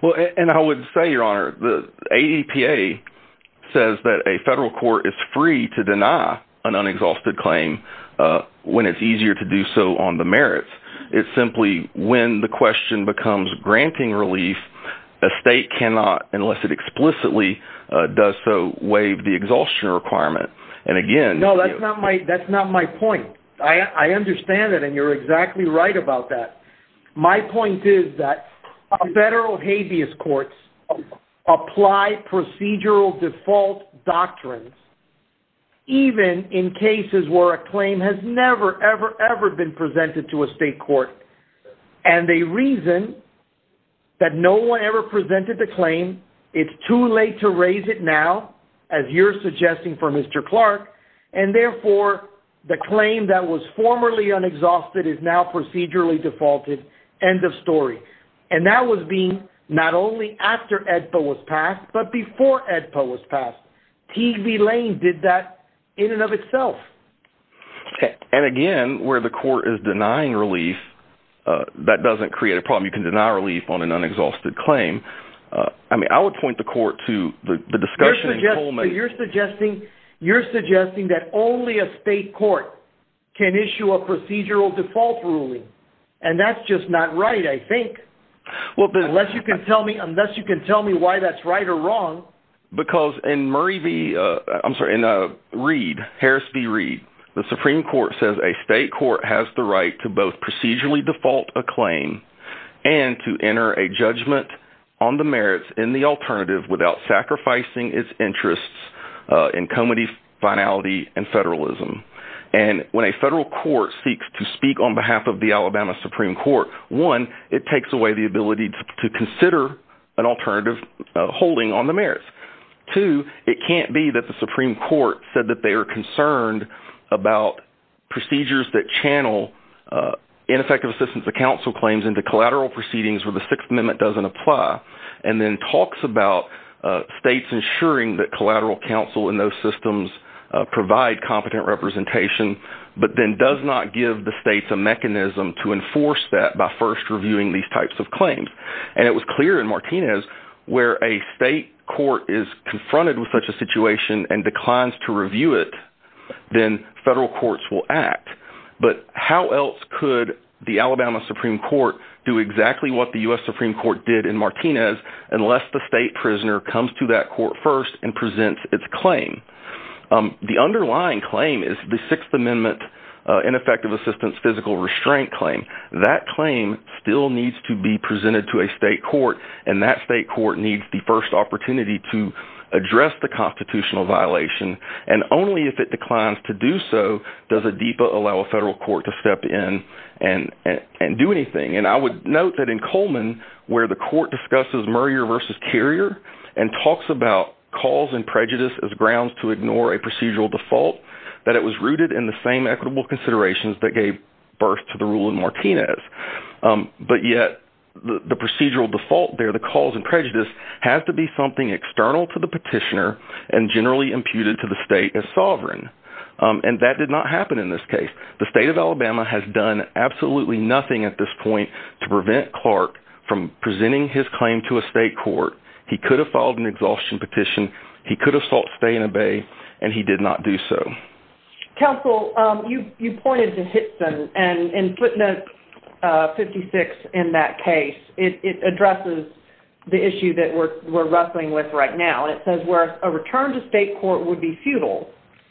Well, and I would say, Your Honor, the ADPA says that a federal court is free to deny an unexhausted claim when it's easier to do so on the merits. It's simply when the question becomes granting relief, a state cannot, unless it explicitly does so, waive the exhaustion requirement. And again- No, that's not my point. I understand it, and you're exactly right about that. My point is that federal habeas courts apply procedural default doctrines, even in cases where a claim has never, ever, ever been presented to a state court, and they reason that no one ever presented the claim. It's too late to raise it now, as you're suggesting for Mr. Clark, and therefore, the claim that was formerly unexhausted is now procedurally defaulted. End of story. And that was being, not only after ADPA was passed, but before ADPA was passed. TV Lane did that in and of itself. And again, where the court is denying relief, that doesn't create a problem. You can deny relief on an unexhausted claim. I mean, I would point the court to the discussion in Coleman- You're suggesting that only a state court can issue a procedural default ruling. And that's just not right, I think. Unless you can tell me why that's right or wrong. Because in Harris v. Reed, the Supreme Court says a state court has the right to both procedurally default a claim and to enter a judgment on the merits in the alternative without sacrificing its interests in comity, finality, and federalism. And when a federal court seeks to speak on behalf of the Alabama Supreme Court, one, it takes away the ability to consider an alternative holding on the merits. Two, it can't be that the Supreme Court said that they are concerned about procedures that channel ineffective assistance of counsel claims into collateral proceedings where the Sixth Amendment doesn't apply, and then talks about states ensuring that collateral counsel in those systems provide competent representation, but then does not give the states a mechanism to enforce that by first reviewing these types of claims. And it was clear in Martinez, where a state court is confronted with such a situation and declines to review it, then federal courts will act. But how else could the Alabama Supreme Court do exactly what the U.S. Supreme Court did in Martinez unless the state prisoner comes to that court first and presents its claim? The underlying claim is the Sixth Amendment ineffective assistance physical restraint claim. That claim still needs to be presented to a state court, and that state court needs the first opportunity to address the constitutional violation. And only if it declines to do so does a DEPA allow a federal court to step in and do anything. And I would note that in Coleman, where the court discusses Murray versus Carrier, and talks about cause and prejudice as grounds to ignore a procedural default, that it was rooted in the same equitable considerations that gave birth to the rule of Martinez. But yet, the procedural default there, the cause and prejudice, has to be something external to the petitioner and generally imputed to the state as sovereign. And that did not happen in this case. The state of Alabama has done absolutely nothing at this point to prevent Clark from presenting his claim to a state court. He could have filed an exhaustion petition, he could have sought stay and obey, and he did not do so. Counsel, you pointed to Hitson, and in footnote 56 in that case, it addresses the issue that we're wrestling with right now. And it says where a return to state court would be futile,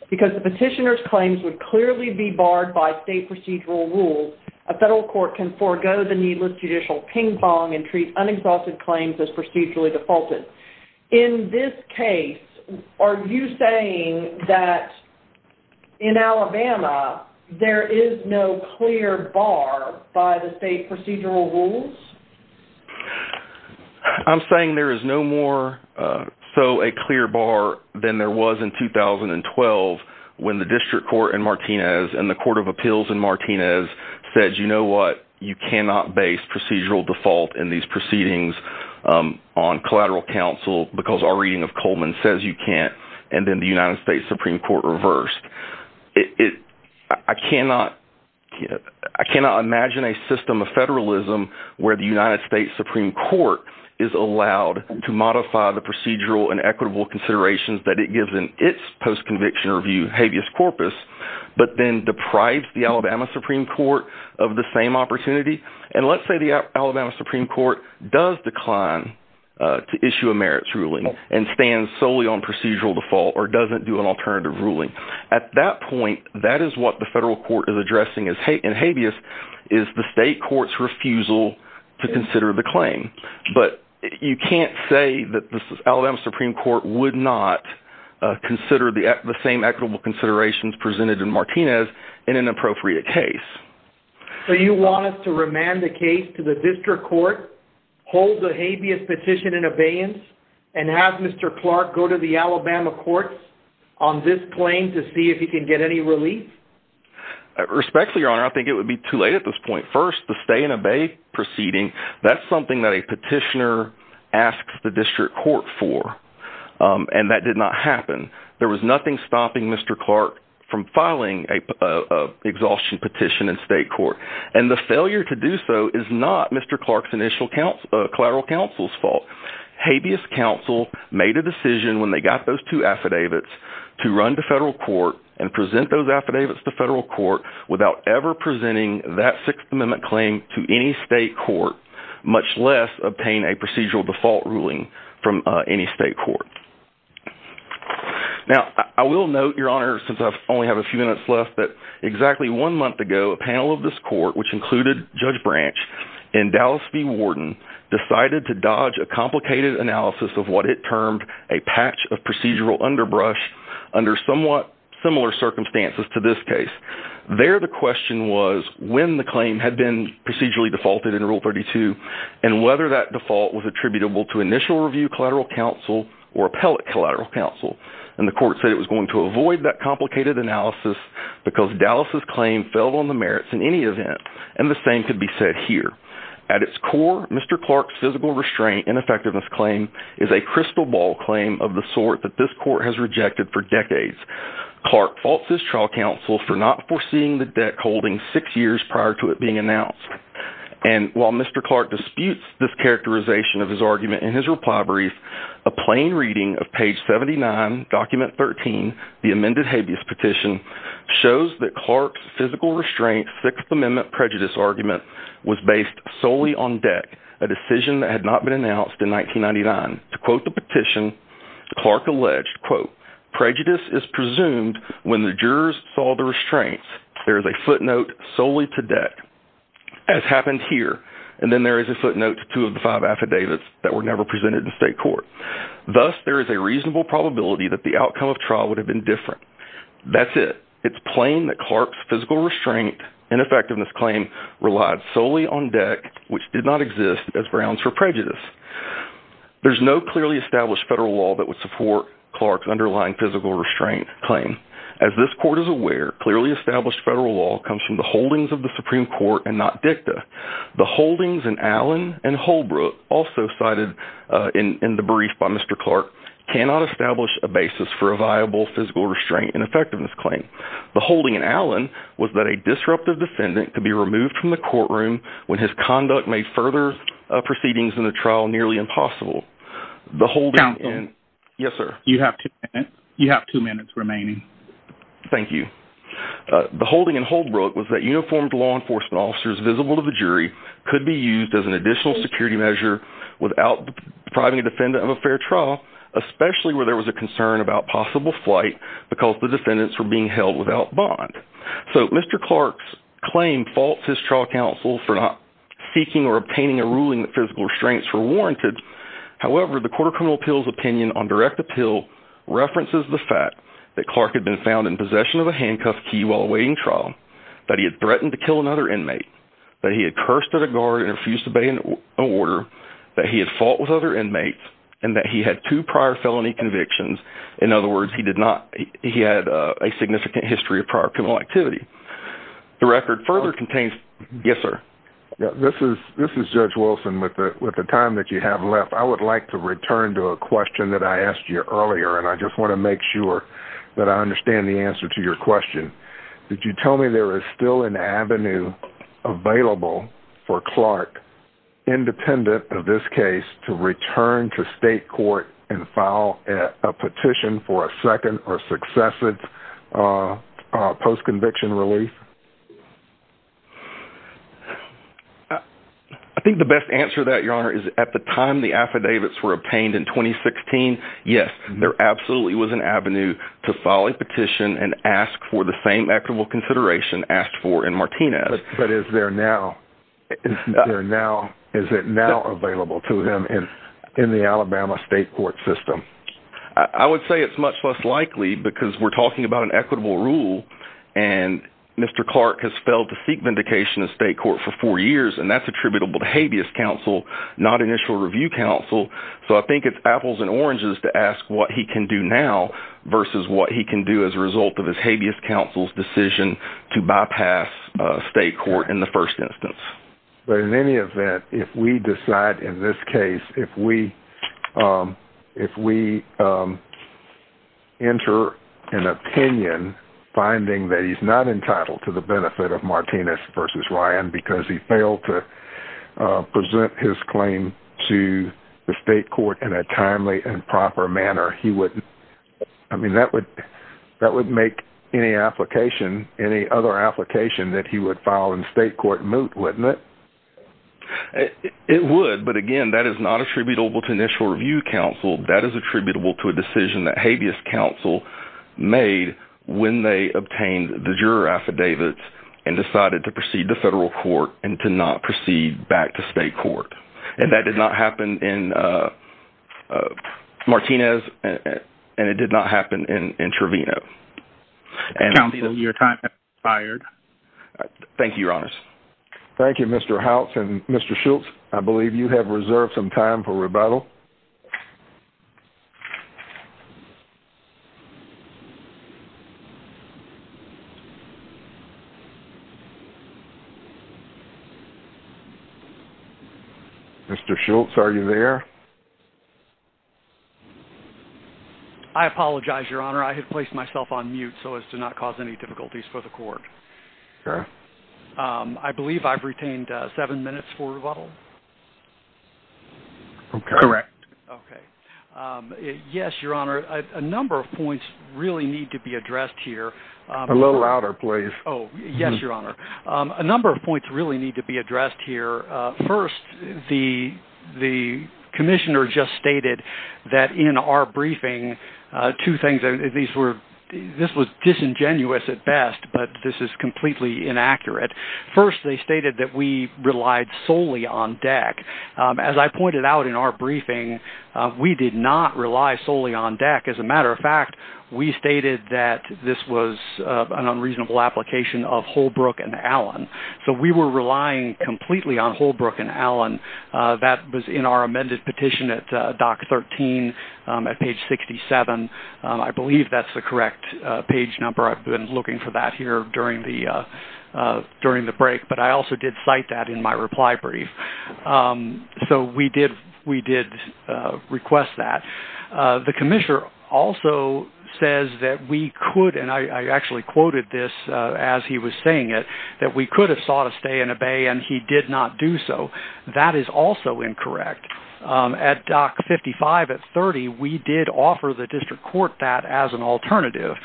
because the petitioner's claims would clearly be barred by state procedural rules. A federal court can forgo the needless judicial ping-pong and treat unexhausted claims as procedurally defaulted. In this case, are you saying that in Alabama, there is no clear bar by the state procedural rules? I'm saying there is no more so a clear bar than there was in 2012 when the District Court in Martinez and the Court of Appeals in Martinez said, you know what, you cannot base procedural default in these proceedings on collateral counsel because our reading of Coleman says you can't, and then the United States Supreme Court reversed. I cannot imagine a system of federalism where the United States Supreme Court is allowed to modify the procedural and equitable considerations that it gives in its post-conviction review habeas corpus, but then deprives the Alabama Supreme Court of the same opportunity. And let's say the Alabama Supreme Court does decline to issue a merits ruling and stands solely on procedural default or doesn't do an alternative ruling. At that point, that is what the federal court is addressing in habeas, is the state refusal to consider the claim. But you can't say that the Alabama Supreme Court would not consider the same equitable considerations presented in Martinez in an appropriate case. So you want us to remand the case to the District Court, hold the habeas petition in abeyance, and have Mr. Clark go to the Alabama courts on this claim to see if he can get any relief? Respectfully, Your Honor, I think it would be too late at this point. First, the stay and obey proceeding, that's something that a petitioner asks the District Court for, and that did not happen. There was nothing stopping Mr. Clark from filing a exhaustion petition in state court. And the failure to do so is not Mr. Clark's initial collateral counsel's fault. Habeas counsel made a decision when they got those two affidavits to run to federal court and present those affidavits to federal court without ever presenting that Sixth Amendment claim to any state court, much less obtain a procedural default ruling from any state court. Now, I will note, Your Honor, since I only have a few minutes left, that exactly one month ago, a panel of this court, which included Judge Branch and Dallas V. Warden, decided to dodge a complicated analysis of what it termed a patch of procedural underbrush under somewhat similar circumstances to this case. There, the question was when the claim had been procedurally defaulted in Rule 32, and whether that default was attributable to initial review collateral counsel or appellate collateral counsel. And the court said it was going to avoid that complicated analysis because Dallas' claim fell on the merits in any event, and the same could be said here. At its core, Mr. Clark's physical restraint ineffectiveness claim is a crystal ball claim of the sort that this court has rejected for decades. Clark faults his trial counsel for not foreseeing the debt holding six years prior to it being announced. And while Mr. Clark disputes this characterization of his argument in his reply brief, a plain reading of page 79, document 13, the amended Habeas petition, shows that Clark's physical restraint Sixth was based solely on debt, a decision that had not been announced in 1999. To quote the petition, Clark alleged, quote, prejudice is presumed when the jurors saw the restraints. There is a footnote solely to debt, as happened here. And then there is a footnote to two of the five affidavits that were never presented in state court. Thus, there is a reasonable probability that the outcome of trial would have been different. That's it. It's plain that Clark's physical restraint ineffectiveness claim relied solely on debt, which did not exist as grounds for prejudice. There's no clearly established federal law that would support Clark's underlying physical restraint claim. As this court is aware, clearly established federal law comes from the holdings of the Supreme Court and not dicta. The holdings in Allen and Holbrook, also cited in the brief by Mr. Clark, cannot establish a basis for a viable physical restraint ineffectiveness claim. The defendant could be removed from the courtroom when his conduct made further proceedings in the trial nearly impossible. The holding... Counsel. Yes, sir. You have two minutes remaining. Thank you. The holding in Holbrook was that uniformed law enforcement officers visible to the jury could be used as an additional security measure without depriving a defendant of a fair trial, especially where there was a concern about possible flight because the defendants were being held without bond. So, Mr. Clark's claim faults his trial counsel for not seeking or obtaining a ruling that physical restraints were warranted. However, the court of criminal appeals opinion on direct appeal references the fact that Clark had been found in possession of a handcuffed key while awaiting trial, that he had threatened to kill another inmate, that he had cursed at a guard and refused to obey an order, that he had fought with other inmates, and that he had two of prior criminal activity. The record further contains... Yes, sir. This is Judge Wilson. With the time that you have left, I would like to return to a question that I asked you earlier, and I just want to make sure that I understand the answer to your question. Did you tell me there is still an avenue available for Clark, independent of this case, to return to state court and file a petition for a second or successive post-conviction relief? I think the best answer to that, Your Honor, is at the time the affidavits were obtained in 2016, yes, there absolutely was an avenue to file a petition and ask for the same equitable in the Alabama state court system. I would say it's much less likely because we're talking about an equitable rule, and Mr. Clark has failed to seek vindication in state court for four years, and that's attributable to habeas counsel, not initial review counsel, so I think it's apples and oranges to ask what he can do now versus what he can do as a result of his habeas counsel's decision to bypass state court in the first instance. But in any event, if we decide in this case, if we enter an opinion finding that he's not entitled to the benefit of Martinez versus Ryan because he failed to present his claim to the state court in a timely and proper manner, he wouldn't, I mean, that would make any application, any other application that he would file in state court moot, wouldn't it? It would, but again, that is not attributable to initial review counsel. That is attributable to a decision that habeas counsel made when they obtained the juror affidavits and decided to proceed to federal court and to not proceed back to state court, and that did not happen in Martinez, and it did not happen in Trevino. County, your time has expired. Thank you, Your Honors. Thank you, Mr. Houts, and Mr. Schultz, I believe you have reserved some time for rebuttal. Mr. Schultz, are you there? I apologize, Your Honor. I had placed myself on mute so as to not cause any difficulties for the court. I believe I've retained seven minutes for rebuttal. Correct. Okay. Yes, Your Honor, a number of points really need to be addressed here. A little louder, please. Oh, yes, Your Honor. A number of points really need to be addressed here. First, the commissioner just stated that in our briefing, two things, this was disingenuous at best, but this is completely inaccurate. First, they stated that we relied solely on DEC. As I pointed out in our briefing, we did not rely solely on DEC. As a matter of fact, we stated that this was an unreasonable application of Holbrook and Allen. So, we were relying completely on Holbrook and Allen. That was in our amended petition at DOC 13 at page 67. I believe that's the correct page number. I've been looking for that here during the break, but I also did cite that in my reply brief. So, we did request that. The commissioner also says that we could, and I actually quoted this as he was saying it, that we could have sought a stay and obey, and he did not do so. That is also incorrect. At DOC 55 at 30, we did offer the district court that as an alternative.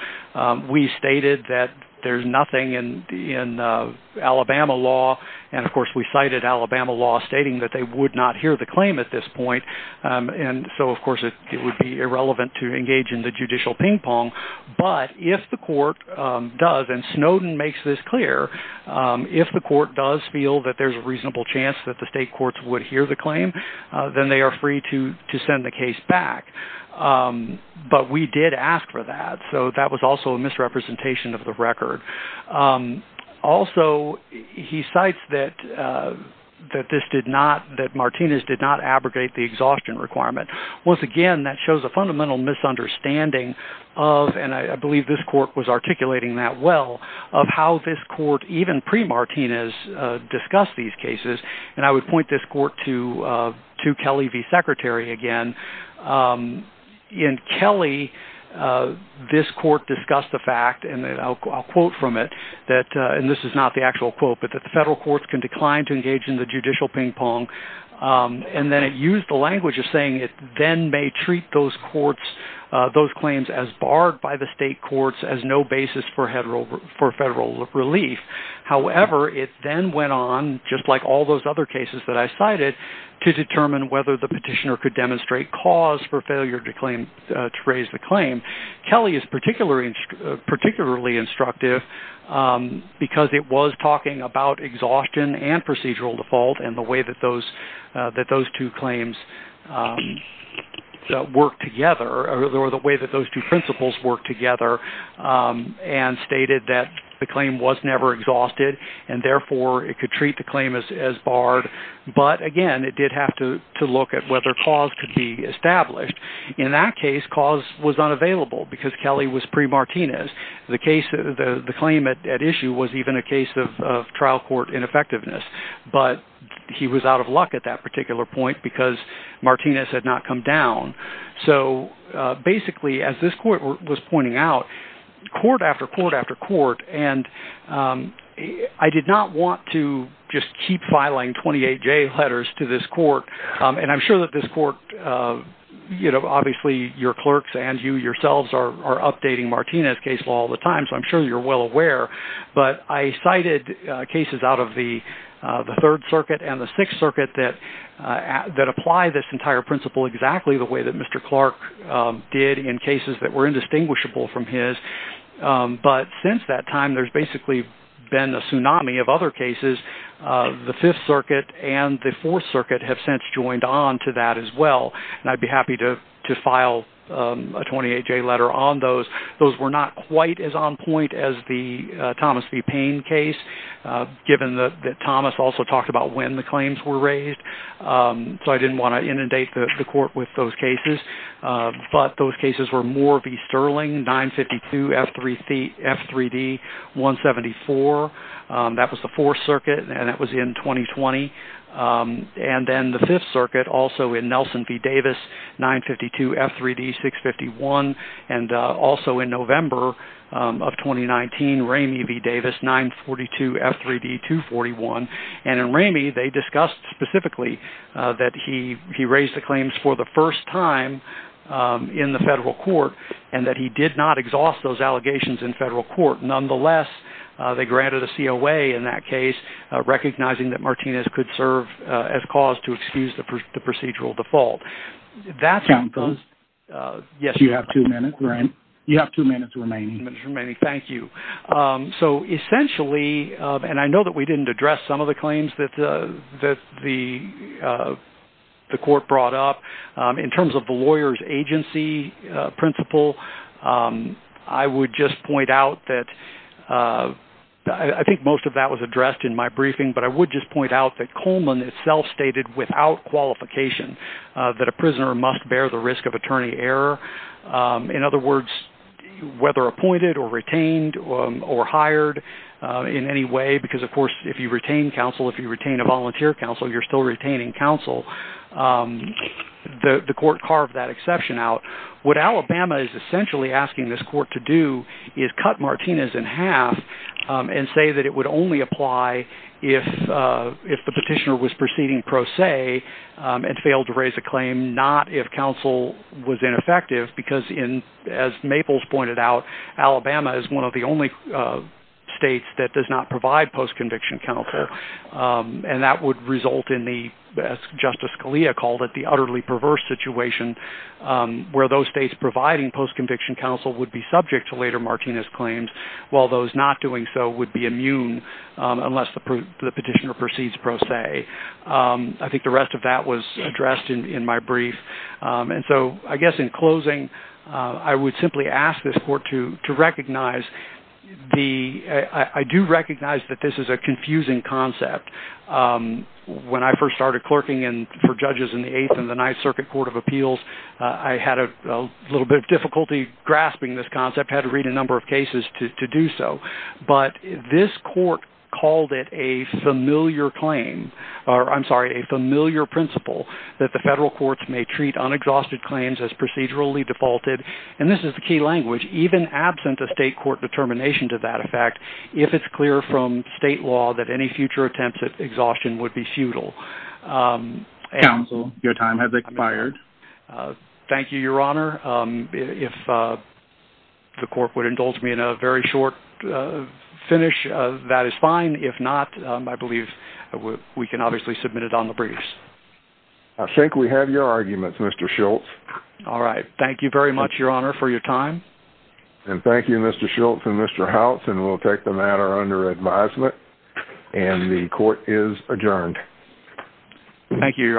We stated that there's nothing in Alabama law, and of course, we cited Alabama law stating that they would not hear the claim at this point. And so, of course, it would be irrelevant to engage the judicial ping pong, but if the court does, and Snowden makes this clear, if the court does feel that there's a reasonable chance that the state courts would hear the claim, then they are free to send the case back. But we did ask for that. So, that was also a misrepresentation of the record. Also, he cites that this did not, that Martinez did not abrogate the exhaustion requirement. Once again, that shows a fundamental misunderstanding of, and I believe this court was articulating that well, of how this court, even pre-Martinez, discussed these cases. And I would point this court to Kelly v. Secretary again. In Kelly, this court discussed the fact, and I'll quote from it, and this is not the actual quote, but that the federal courts can decline to then may treat those claims as barred by the state courts as no basis for federal relief. However, it then went on, just like all those other cases that I cited, to determine whether the petitioner could demonstrate cause for failure to claim, to raise the claim. Kelly is particularly instructive, because it was talking about exhaustion and procedural default and the way that those two claims worked together, or the way that those two principles worked together, and stated that the claim was never exhausted, and therefore, it could treat the claim as barred. But again, it did have to look at whether cause could be established. In that case, cause was unavailable, because Kelly was pre-Martinez. The claim at issue was even a case of trial court ineffectiveness. But he was out of luck at that particular point, because Martinez had not come down. So basically, as this court was pointing out, court after court after court, and I did not want to just keep filing 28J letters to this court. And I'm sure that this court, you know, obviously, your clerks and you yourselves are updating Martinez' case law all the time, so I'm sure you're well aware. But I cited cases out of the Third Circuit and the Sixth Circuit that apply this entire principle exactly the way that Mr. Clark did in cases that were indistinguishable from his. But since that time, there's basically been a tsunami of other cases. The Fifth Circuit and the Fourth Circuit have since joined on to that as well. And I'd be happy to file a 28J letter on those. Those were not quite as on point as the Thomas v. Payne case, given that Thomas also talked about when the claims were raised. So I didn't want to inundate the court with those cases. But those cases were Moore v. Sterling, 952 F3D-174. That was the Fourth Circuit, and that was in 2020. And then the Fifth Circuit, also in Nelson v. Davis, 952 F3D-651. And also in November of 2019, Ramey v. Davis, 942 F3D-241. And in Ramey, they discussed specifically that he raised the claims for the first time in the federal court, and that he did not exhaust those allegations in federal court. Nonetheless, they granted a COA in that case, recognizing that Martinez could serve as cause to excuse the procedural default. You have two minutes remaining. Two minutes remaining. Thank you. So essentially, and I know that we didn't address some of the agency principle, I would just point out that I think most of that was addressed in my briefing, but I would just point out that Coleman itself stated without qualification, that a prisoner must bear the risk of attorney error. In other words, whether appointed or retained or hired in any way, because of course, if you retain counsel, if you retain a volunteer counsel, you're still retaining counsel. The court carved that exception out. What Alabama is essentially asking this court to do is cut Martinez in half and say that it would only apply if the petitioner was proceeding pro se and failed to raise a claim, not if counsel was ineffective. Because as Maples pointed out, Alabama is one of the only states that does not result in the, as Justice Scalia called it, the utterly perverse situation where those states providing post-conviction counsel would be subject to later Martinez claims, while those not doing so would be immune unless the petitioner proceeds pro se. I think the rest of that was addressed in my brief. And so I guess in closing, I would simply ask this court to recognize the, I do recognize that this is a confusing concept. When I first started clerking for judges in the Eighth and the Ninth Circuit Court of Appeals, I had a little bit of difficulty grasping this concept, had to read a number of cases to do so. But this court called it a familiar claim, or I'm sorry, a familiar principle that the federal courts may treat unexhausted claims as procedurally defaulted. And this is the key language, even absent a state court determination to that effect, if it's clear from state law that any future attempts at exhaustion would be futile. Counsel, your time has expired. Thank you, Your Honor. If the court would indulge me in a very short finish, that is fine. If not, I believe we can obviously submit it on the briefs. I think we have your arguments, Mr. Schultz. All right. Thank you very much, Your Honor, for your time. And thank you, Mr. Schultz and Mr. Howitz, and we'll take the matter under advisement. And the court is adjourned. Thank you, Your Honor.